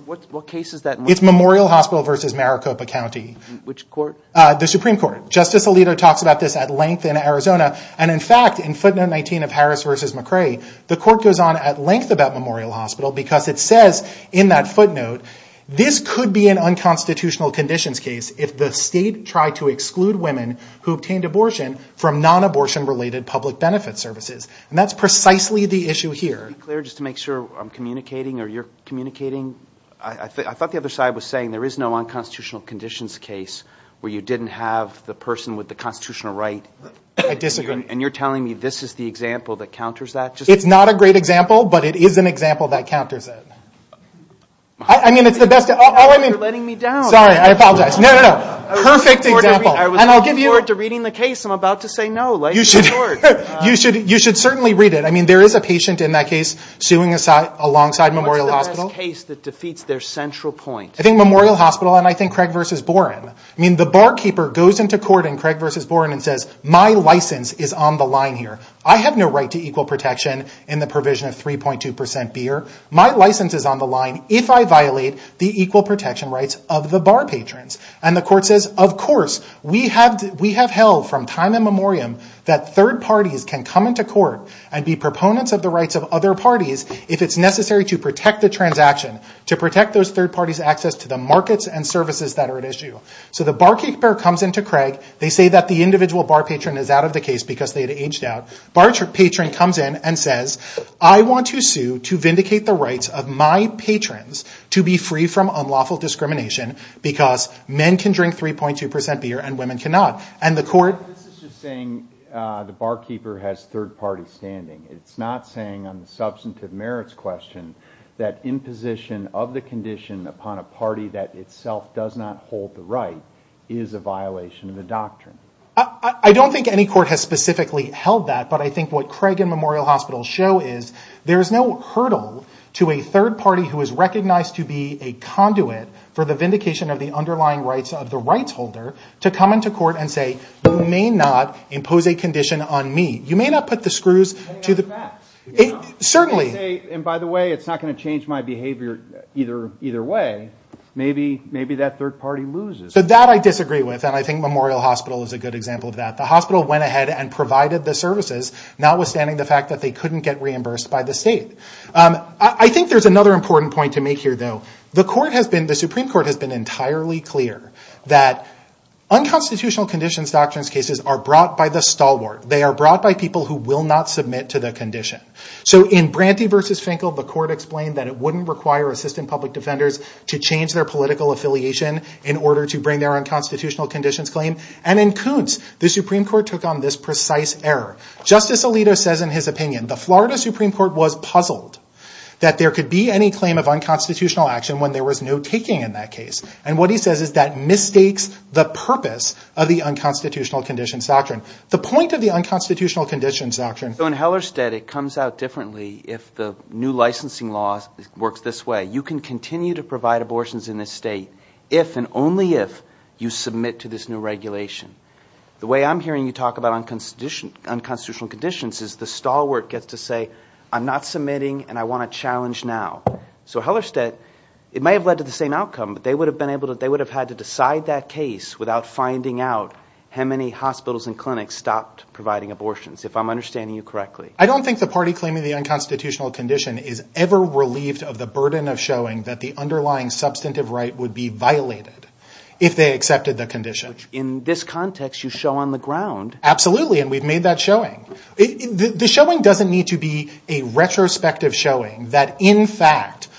it's Memorial Hospital versus Maricopa County. The Supreme Court. Justice Alito talks about this at length in Arizona, and in fact in footnote 19 of Harris v. McCrae, the court goes on at length about Memorial Hospital because it says in that footnote, this could be an unconstitutional conditions case if the state tried to exclude women who obtained abortion from nonabortion-related public benefit services. And that's precisely the issue here. Just to be clear, just to make sure I'm communicating or you're communicating, I thought the other side was saying there is no unconstitutional conditions case where you didn't have the person with the constitutional right. I disagree. And you're telling me this is the example that counters that? It's not a great example, but it is an example that counters it. You're letting me down. Sorry, I apologize. I was looking forward to reading the case. I'm about to say no. You should certainly read it. There is a patient in that case suing alongside Memorial Hospital. What's the best case that defeats their central point? I think Memorial Hospital and I think Craig v. Boren. The barkeeper goes into court in Craig v. Boren and says, my license is on the line here. I have no right to equal protection in the provision of 3.2% beer. My license is on the line if I violate the equal protection rights of the bar patrons. And the court says, of course. We have held from time immemorial that third parties can come into court and be proponents of the rights of other parties if it's necessary to protect the transaction, to protect those third parties' access to the markets and services that are at issue. So the barkeeper comes into Craig. They say that the individual bar patron is out of the case because they had aged out. The bar patron comes in and says, I want to sue to vindicate the rights of my patrons to be free from unlawful discrimination because men can drink 3.2% beer and women cannot. And the court... This is just saying the barkeeper has third-party standing. It's not saying on the substantive merits question that imposition of the condition upon a party that itself does not hold the right is a violation of the doctrine. I don't think any court has specifically held that. But I think what Craig and Memorial Hospital show is there is no hurdle to a third party who is recognized to be a conduit for the vindication of the underlying rights of the rights holder to come into court and say, you may not impose a condition on me. You may not put the screws to the... And by the way, it's not going to change my behavior either way. Maybe that third party loses. So that I disagree with. And I think Memorial Hospital is a good example of that. The hospital went ahead and provided the services notwithstanding the fact that they couldn't get reimbursed by the state. I think there's another important point to make here, though. The Supreme Court has been entirely clear that unconstitutional conditions doctrines cases are brought by the stalwart. They are brought by people who will not submit to the condition. So in Branty v. Finkel, the court explained that it wouldn't require assistant public defenders to change their political affiliation in order to bring their unconstitutional conditions claim. And in Kuntz, the Supreme Court took on this precise error. Justice Alito says in his opinion, the Florida Supreme Court was puzzled that there could be any claim of unconstitutional action when there was no taking in that case. And what he says is that mistakes the purpose of the unconstitutional conditions doctrine. The point of the unconstitutional conditions doctrine... So in Hellerstedt, it comes out differently if the new licensing law works this way. You can continue to provide abortions in this state if and only if you submit to this new regulation. The way I'm hearing you talk about unconstitutional conditions is the stalwart gets to say, I'm not submitting and I want a challenge now. So Hellerstedt, it may have led to the same outcome but they would have had to decide that case without finding out how many hospitals and clinics stopped providing abortions, if I'm understanding you correctly. I don't think the party claiming the unconstitutional condition is ever relieved of the burden of showing that the underlying substantive right would be violated if they accepted the condition. In this context, you show on the ground. Absolutely, and we've made that showing. The showing doesn't need to be a retrospective showing that in fact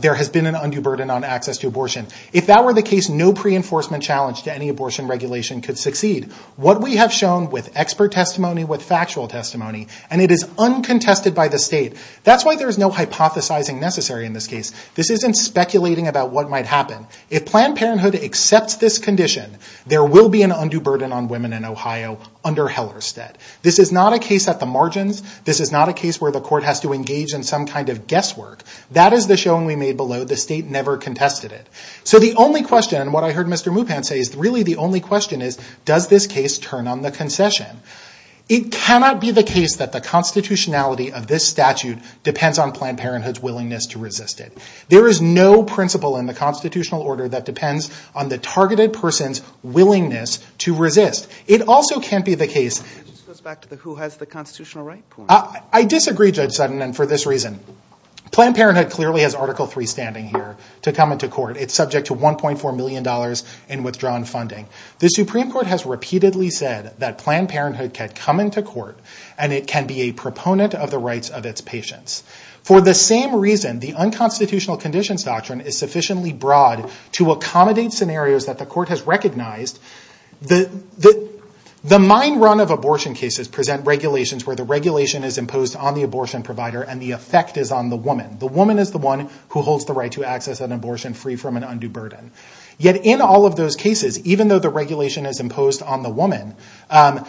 there has been an undue burden on access to abortion. If that were the case, no pre-enforcement challenge to any abortion regulation could succeed. What we have shown with expert testimony, with factual testimony and it is uncontested by the state. That's why there's no hypothesizing necessary in this case. This isn't speculating about what might happen. If Planned Parenthood accepts this condition there will be an undue burden on women in Ohio under Hellerstedt. This is not a case at the margins. This is not a case where the court has to engage in some kind of guesswork. That is the showing we made below. The state never contested it. So the only question, and what I heard Mr. Mupan say is really the only question is, does this case turn on the concession? It cannot be the case that the constitutionality of this statute depends on Planned Parenthood's willingness to resist it. There is no principle in the constitutional order that depends on the targeted person's willingness to resist. It also can't be the case... I disagree, Judge Sutton, and for this reason. Planned Parenthood clearly has Article 3 standing here to come into court. It's subject to $1.4 million in withdrawn funding. The Supreme Court has repeatedly said that Planned Parenthood can come into court and it can be a proponent of the rights of its patients. For the same reason, the Unconstitutional Conditions Doctrine is sufficiently broad to accommodate scenarios that the court has recognized. The mine run of abortion cases present regulations where the regulation is imposed on the abortion provider and the effect is on the woman. The woman is the one who holds the right to access an abortion free from an undue burden. Yet in all of those cases, even though the regulation is imposed on the woman, the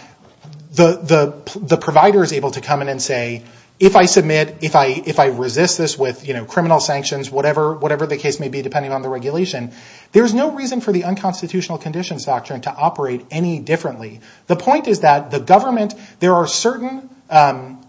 provider is able to come in and say, if I submit, if I resist this with criminal sanctions, whatever the case may be depending on the regulation, there is no reason for the Unconstitutional Conditions Doctrine to operate any differently. The point is that there are certain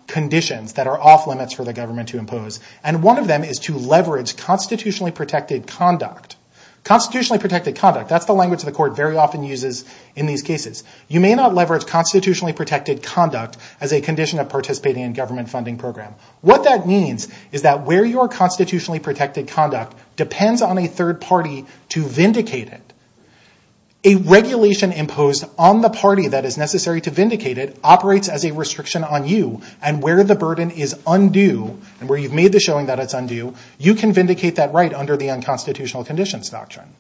conditions that are off-limits for the government to impose. One of them is to leverage constitutionally protected conduct. Constitutionally protected conduct. That's the language the court very often uses in these cases. You may not leverage constitutionally protected conduct as a condition of participating in a government funding program. What that means is that where your constitutionally protected conduct depends on a third party to vindicate it, a regulation imposed on the party that is necessary to vindicate it operates as a restriction on you and where the burden is undue, and where you've made the showing that it's undue, you can vindicate that right under the Unconstitutional Conditions Doctrine.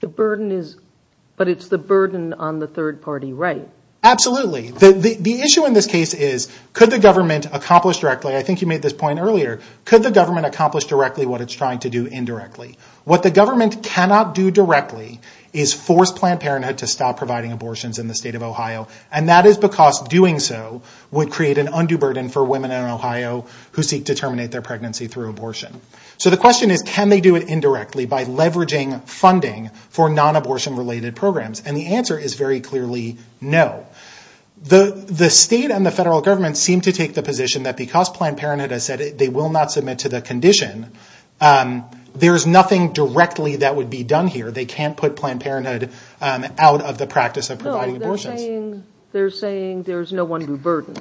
But it's the burden on the third party, right? Absolutely. The issue in this case is could the government accomplish directly, I think you made this point earlier, could the government accomplish directly what it's trying to do indirectly? What the government cannot do directly is force Planned Parenthood to stop providing abortions in the state of Ohio, and that is because doing so would create an undue burden for women in Ohio who seek to terminate their pregnancy through abortion. So the question is can they do it indirectly by leveraging funding for non-abortion related programs? And the answer is very clearly no. The state and the federal government seem to take the position that because Planned Parenthood has said they will not submit to the condition, there's nothing directly that would be done here. They can't put Planned Parenthood out of the practice of providing abortions. No, they're saying there's no undue burden.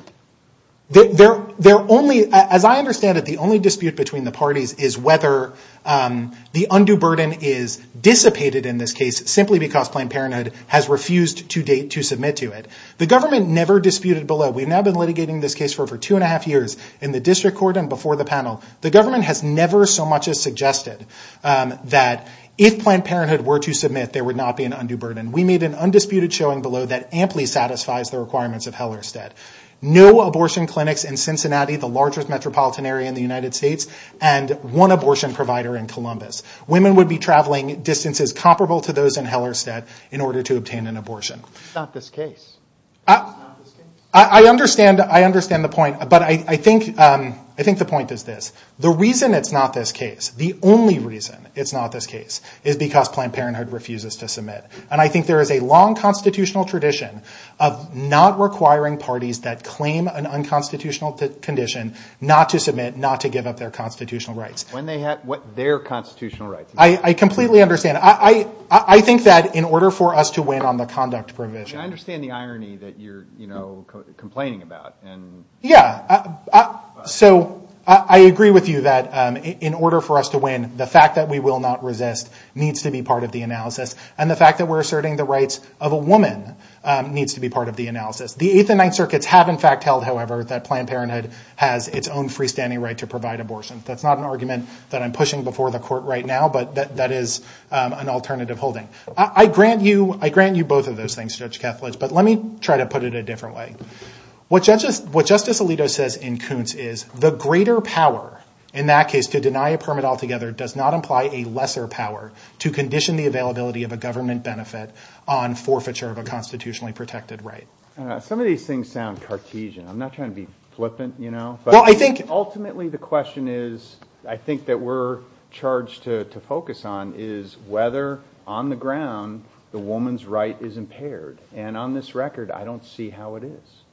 As I understand it, the only dispute between the parties is whether the undue burden is dissipated in this case simply because Planned Parenthood has refused to date to submit to it. The government never disputed below. We've now been litigating this case for over two and a half years in the district court and before the panel. The government has never so much as suggested that if Planned Parenthood were to submit, there would not be an undue burden. We made an undisputed showing below that no abortion clinics in Cincinnati, the largest metropolitan area in the United States, and one abortion provider in Columbus. Women would be traveling distances comparable to those in Hellerstedt in order to obtain an abortion. It's not this case. I understand the point, but I think the point is this. The reason it's not this case, the only reason it's not this case, is because Planned Parenthood refuses to submit. And I think there is a long constitutional tradition of not requiring parties that claim an unconstitutional condition not to submit, not to give up their constitutional rights. When they have their constitutional rights. I completely understand. I think that in order for us to win on the conduct provision. I understand the irony that you're complaining about. Yeah. So I agree with you that in order for us to win, the fact that we will not resist needs to be part of the analysis. And the fact that we're asserting the rights of a woman needs to be part of the analysis. The Eighth and Ninth Circuits have in fact held, however, that Planned Parenthood has its own freestanding right to provide abortion. That's not an argument that I'm pushing before the court right now, but that is an alternative holding. I grant you both of those things, Judge Kethledge, but let me try to put it a different way. What Justice Alito says in Kuntz is, the greater power in that case to deny a permit altogether does not imply a lesser power to condition the availability of a government benefit on forfeiture of a constitutionally protected right. Some of these things sound Cartesian. I'm not trying to be flippant, you know. Ultimately the question is, I think that we're charged to focus on, is whether on the ground the woman's right is impaired. And on this record, I don't see how it is.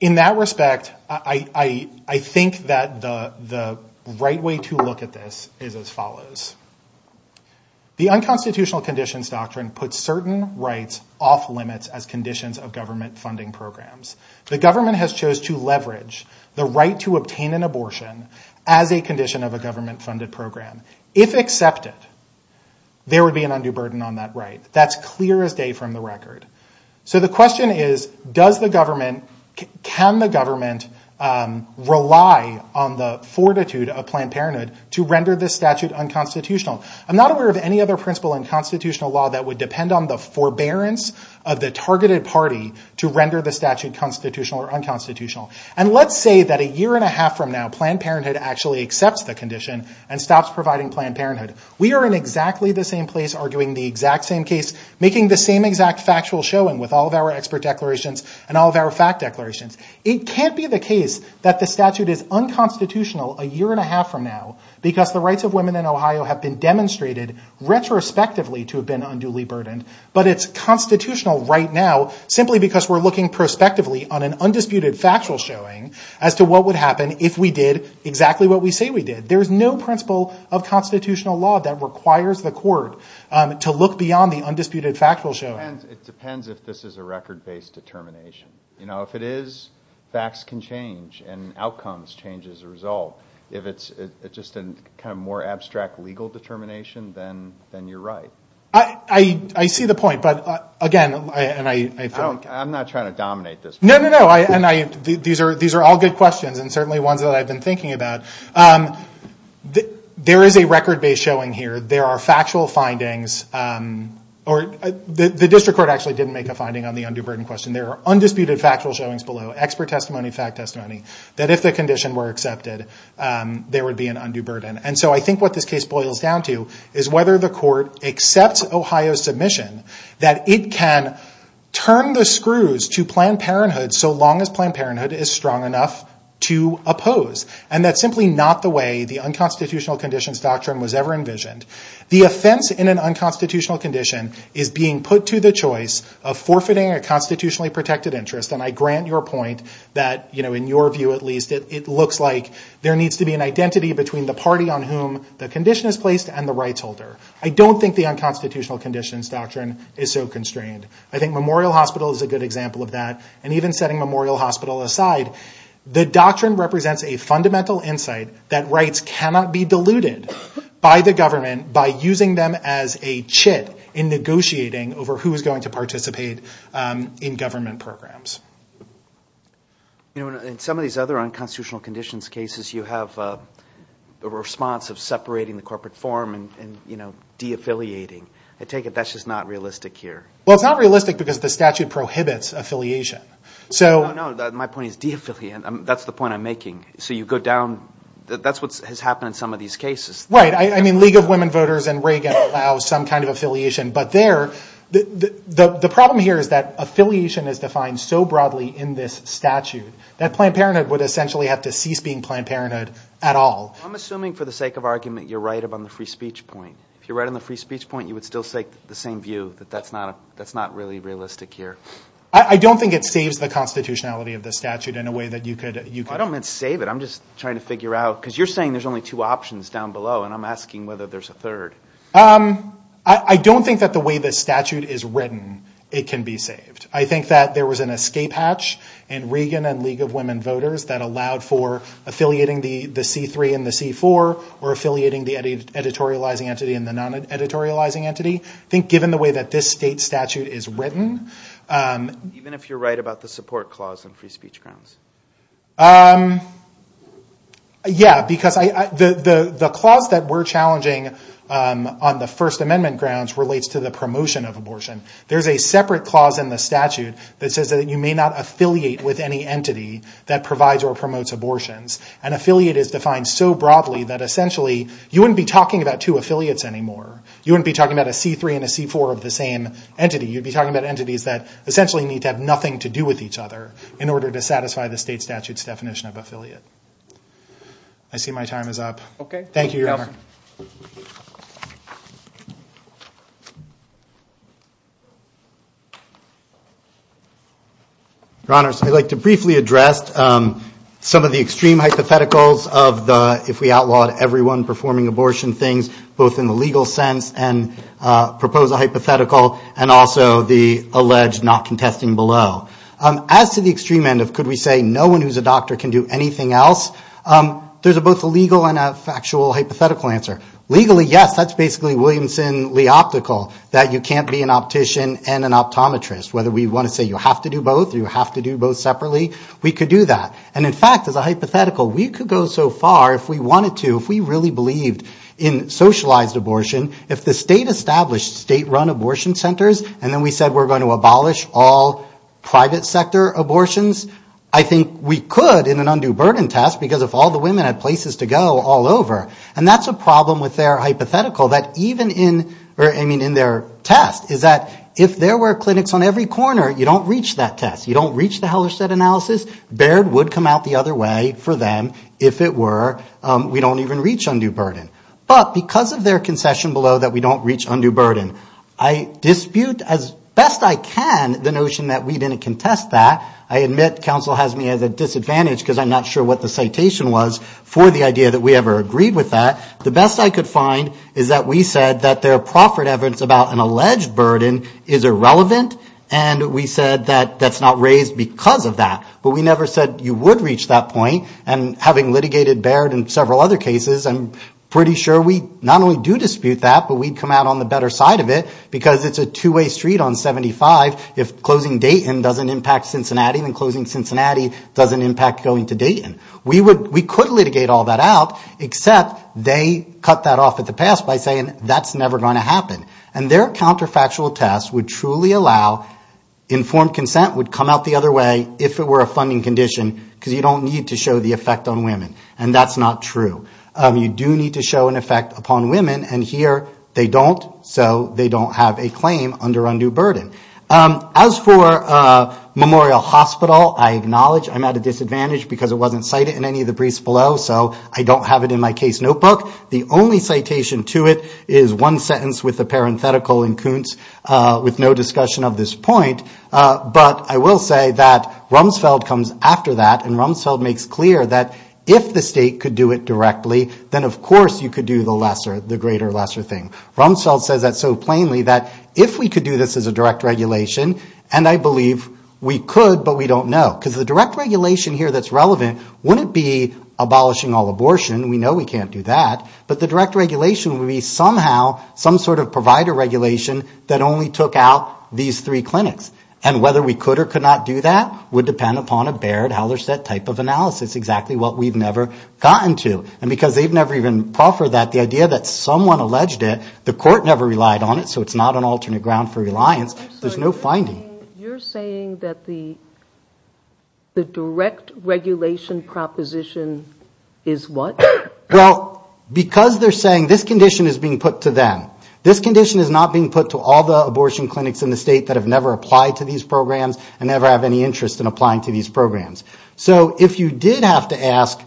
In that respect, I think that the right way to look at this is as follows. The Unconstitutional Conditions Doctrine puts certain rights off limits as conditions of government funding programs. The government has chose to leverage the right to obtain an abortion as a condition of a government funded program. If accepted, there would be an undue burden on that right. That's clear as day from the record. So the question is, can the government rely on the fortitude of Planned Parenthood to render this statute unconstitutional? I'm not aware of any other principle in constitutional law that would depend on the forbearance of the targeted party to render the statute constitutional or unconstitutional. And let's say that a year and a half from now, Planned Parenthood actually accepts the condition and stops providing Planned Parenthood. We are in exactly the same place arguing the exact same case, making the same exact factual showing with all of our expert declarations and all of our fact declarations. It can't be the case that the statute is unconstitutional a year and a half from now because the rights of women in Ohio have been demonstrated retrospectively to have been unduly burdened. But it's constitutional right now simply because we're looking prospectively on an undisputed factual showing as to what would happen if we did exactly what we say we did. There's no principle of constitutional law that requires the court to look beyond the undisputed factual showing. It depends if this is a record-based determination. If it is, facts can change and outcomes change as a result. If it's just a more abstract legal determination, then you're right. I see the point. I'm not trying to dominate this. No, no, no. These are all good questions and certainly ones that I've been thinking about. There is a record-based showing here. There are factual findings. The district court actually didn't make a finding on the undue burden question. There are undisputed factual showings below, expert testimony, fact testimony, that if the condition were accepted, there would be an undue burden. I think what this case boils down to is whether the court accepts Ohio's submission that it can turn the screws to Planned Parenthood so long as Planned Parenthood is strong enough to oppose. That's simply not the way the unconstitutional conditions doctrine was ever envisioned. The offense in an unconstitutional condition is being put to the choice of forfeiting a constitutionally protected interest. I grant your point that, in your view at least, it looks like there needs to be an identity between the party on whom the condition is placed and the rights holder. I don't think the unconstitutional conditions doctrine is so constrained. I think Memorial Hospital is a good example of that, and even setting Memorial Hospital aside, the doctrine represents a fundamental insight that rights cannot be diluted by the government by using them as a chit in negotiating over who is going to participate in government programs. In some of these other unconstitutional conditions cases, you have a response of separating the corporate form and de-affiliating. I take it that's just not realistic here. It's not realistic because the statute prohibits affiliation. No, my point is de-affiliating. That's the point I'm making. That's what has happened in some of these cases. League of Women Voters and Reagan allow some kind of affiliation. The problem here is that affiliation is defined so broadly in this statute that Planned Parenthood would essentially have to cease being Planned Parenthood at all. I'm assuming, for the sake of argument, you're right on the free speech point. If you're right on the free speech point, you would still say the same view, that that's not really realistic here. I don't think it saves the constitutionality of the statute in a way that you could... I don't meant save it. I'm just trying to figure out, are we affiliating the C4 or affiliating the editorializing entity and the non-editorializing entity? Given the way that this state statute is written... Even if you're right about the support clause in free speech grounds? Yeah. The clause that we're challenging on the First Amendment grounds relates to the promotion of abortion. There's a separate clause in the statute that says that you may not affiliate with any entity that provides or promotes abortions. You wouldn't be talking about two affiliates anymore. You wouldn't be talking about a C3 and a C4 of the same entity. You'd be talking about entities that essentially need to have nothing to do with each other in order to satisfy the state statute's definition of affiliate. I see my time is up. Thank you, Your Honor. Your Honor, I'd like to briefly address some of the extreme hypotheticals of the, if we outlawed everyone performing abortion, things both in the legal sense and propose a hypothetical and also the alleged not contesting below. As to the extreme end of could we say no one who's a doctor can do anything else, there's both a legal and a factual hypothetical. Legally, yes, that's basically Williamson-Lee optical that you can't be an optician and an optometrist. Whether we want to say you have to do both, you have to do both separately, we could do that. And in fact, as a hypothetical, we could go so far if we wanted to, if we really believed in socialized abortion, if the state established state-run abortion centers and then we said we're going to abolish all private sector abortions, I think we could in an undue burden test because if all the women had places to go all over, and that's a problem with their hypothetical, that even in, I mean in their test, is that if there were clinics on every corner, you don't reach that test, you don't reach the Hellerstedt analysis, Baird would come out the other way for them if it were we don't even reach undue burden. But because of their concession below that we don't reach undue burden, I dispute as best I can the notion that we didn't contest that. I admit counsel has me at a disadvantage because I'm not sure what the citation was for the idea that we ever agreed with that. The best I could find is that we said that their proffered evidence about an alleged burden is irrelevant, and we said that that's not raised because of that. But we never said you would reach that point, and having litigated Baird and several other cases, I'm pretty sure we not only do dispute that, but we'd come out on the better side of it because it's a two-way street on 75 if closing Dayton doesn't impact Cincinnati, then closing Cincinnati doesn't impact going to Dayton. We could litigate all that out, except they cut that off at the pass by saying that's never going to happen. And their counterfactual test would truly allow, informed consent would come out the other way if it were a funding condition because you don't need to show the effect on women, and that's not true. You do need to show an effect upon women, and here they don't, so they don't have a claim under undue burden. As for Memorial Hospital, I acknowledge I'm at a disadvantage because it wasn't cited in any of the briefs below, so I don't have it in my case notebook. The only citation to it is one sentence with a parenthetical in Kuntz with no discussion of this point, but I will say that Rumsfeld comes after that, and Rumsfeld makes clear that if the state could do it directly, then of course you could do the lesser, the greater lesser thing. Rumsfeld says that so plainly, that if we could do this as a direct regulation, and I believe we could, but we don't know, because the direct regulation here that's relevant wouldn't be abolishing all abortion, we know we can't do that, but the direct regulation would be somehow some sort of provider regulation that only took out these three clinics. And whether we could or could not do that would depend upon a Baird-Hellerstedt type of analysis, exactly what we've never gotten to. And because they've never even proffered that, the idea that someone alleged it, the court never relied on it, so it's not an alternate ground for reliance, there's no finding. You're saying that the direct regulation proposition is what? Well, because they're saying this condition is being put to them. This condition is not being put to all the abortion clinics in the state that have never applied to these programs and never have any interest in applying to these programs. So if you did have to ask,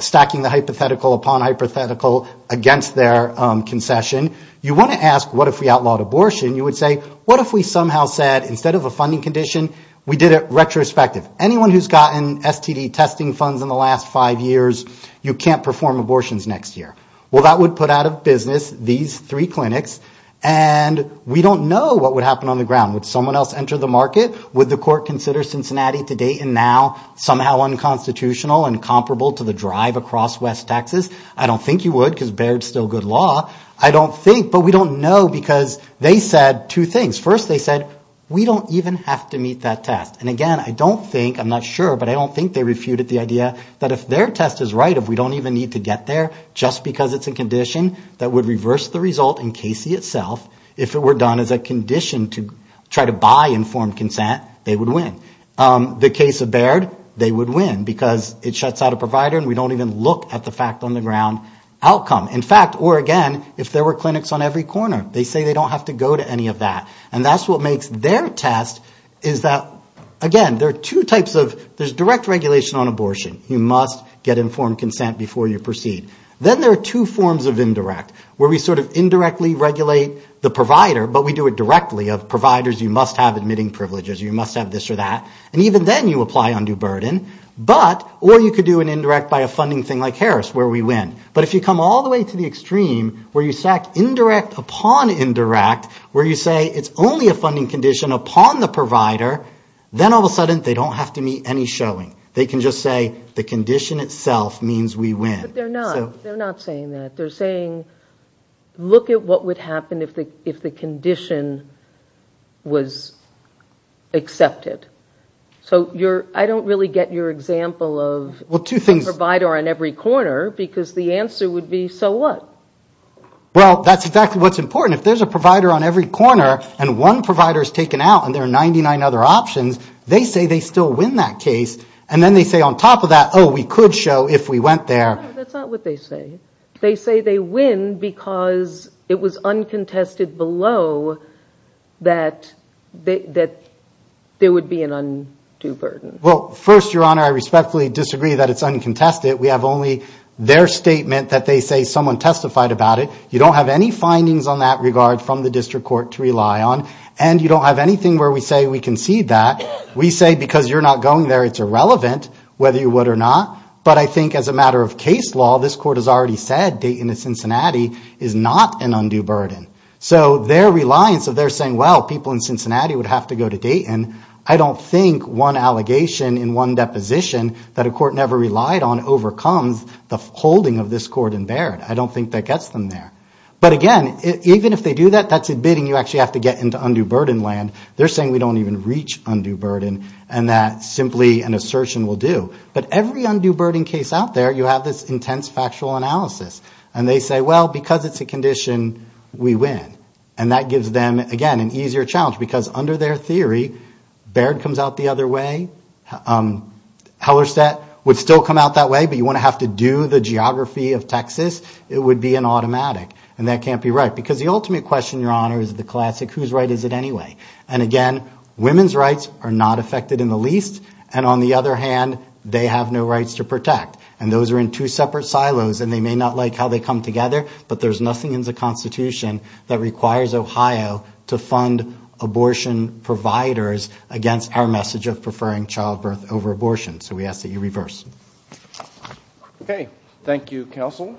stacking the hypothetical upon hypothetical against their concession, you want to ask, what if we outlawed abortion? You would say, what if we somehow said, instead of a funding condition, we did it retrospective. Anyone who's gotten STD testing funds in the last five years, you can't perform abortions next year. Well, that would put out of business these three clinics, and we don't know what would happen on the ground. Would someone else enter the market? Would the court consider Cincinnati to date and now somehow unconstitutional and comparable to the drive across West Texas? I don't think you would, because Baird's still good law. I don't think, but we don't know, because they said two things. First, they said, we don't even have to meet that test. And again, I don't think, I'm not sure, but I don't think they refuted the idea that if their test is right, if we don't even need to get there, just because it's a condition that would reverse the result in Casey itself, if it were done as a condition to try to buy informed consent, they would win. The case of Baird, they would win, because it shuts out a provider, and we don't even look at the fact on the ground outcome. In fact, or again, if there were clinics on every corner, they say they don't have to go to any of that. And that's what makes their test is that, again, there are two types of, there's direct regulation on abortion. You must get informed consent before you proceed. Then there are two forms of indirect, where we sort of indirectly regulate the provider, but we do it directly, of providers you must have admitting privileges, you must have this or that, and even then you apply undue burden. But, or you could do an indirect by a funding thing like Harris, where we win. But if you come all the way to the extreme, where you stack indirect upon indirect, where you say it's only a funding condition upon the provider, then all of a sudden they don't have to meet any showing. They can just say the condition itself means we win. But they're not. They're not saying that. They're saying look at what would happen if the condition was accepted. So I don't really get your example of a provider on every corner, because the answer would be, so what? Well, that's exactly what's important. If there's a provider on every corner and one provider is taken out and there are 99 other options, they say they still win that case. And then they say on top of that, oh, we could show if we went there. No, that's not what they say. They say they win because it was uncontested below that there would be an undue burden. Well, first, Your Honor, I respectfully disagree that it's uncontested. We have only their statement that they say someone testified about it. You don't have any findings on that regard from the district court to rely on. And you don't have anything where we say we concede that. We say because you're not going there, it's irrelevant whether you would or not. But I think as a matter of case law, this court has already said Dayton and Cincinnati is not an undue burden. So their reliance of their saying, well, people in Cincinnati would have to go to Dayton, I don't think one allegation in one deposition that a court never relied on overcomes the holding of this court in Baird. I don't think that gets them there. But again, even if they do that, that's admitting you actually have to get into undue burden land. They're saying we don't even reach undue burden and that simply an assertion will do. But every undue burden case out there, you have this intense factual analysis. And they say, well, because it's a condition, we win. And that gives them, again, an easier challenge because under their theory, Baird comes out the other way. Hellerstedt would still come out that way, but you wouldn't have to do the geography of Texas. It would be an automatic. And that can't be right because the ultimate question, Your Honor, is the classic, whose right is it anyway? And again, women's rights are not affected in the least. And on the other hand, they have no rights to protect. And those are in two separate silos and they may not like how they come together. But there's nothing in the Constitution that requires Ohio to fund abortion providers against our message of preferring childbirth over abortion. So we ask that you reverse. Okay. Thank you, counsel.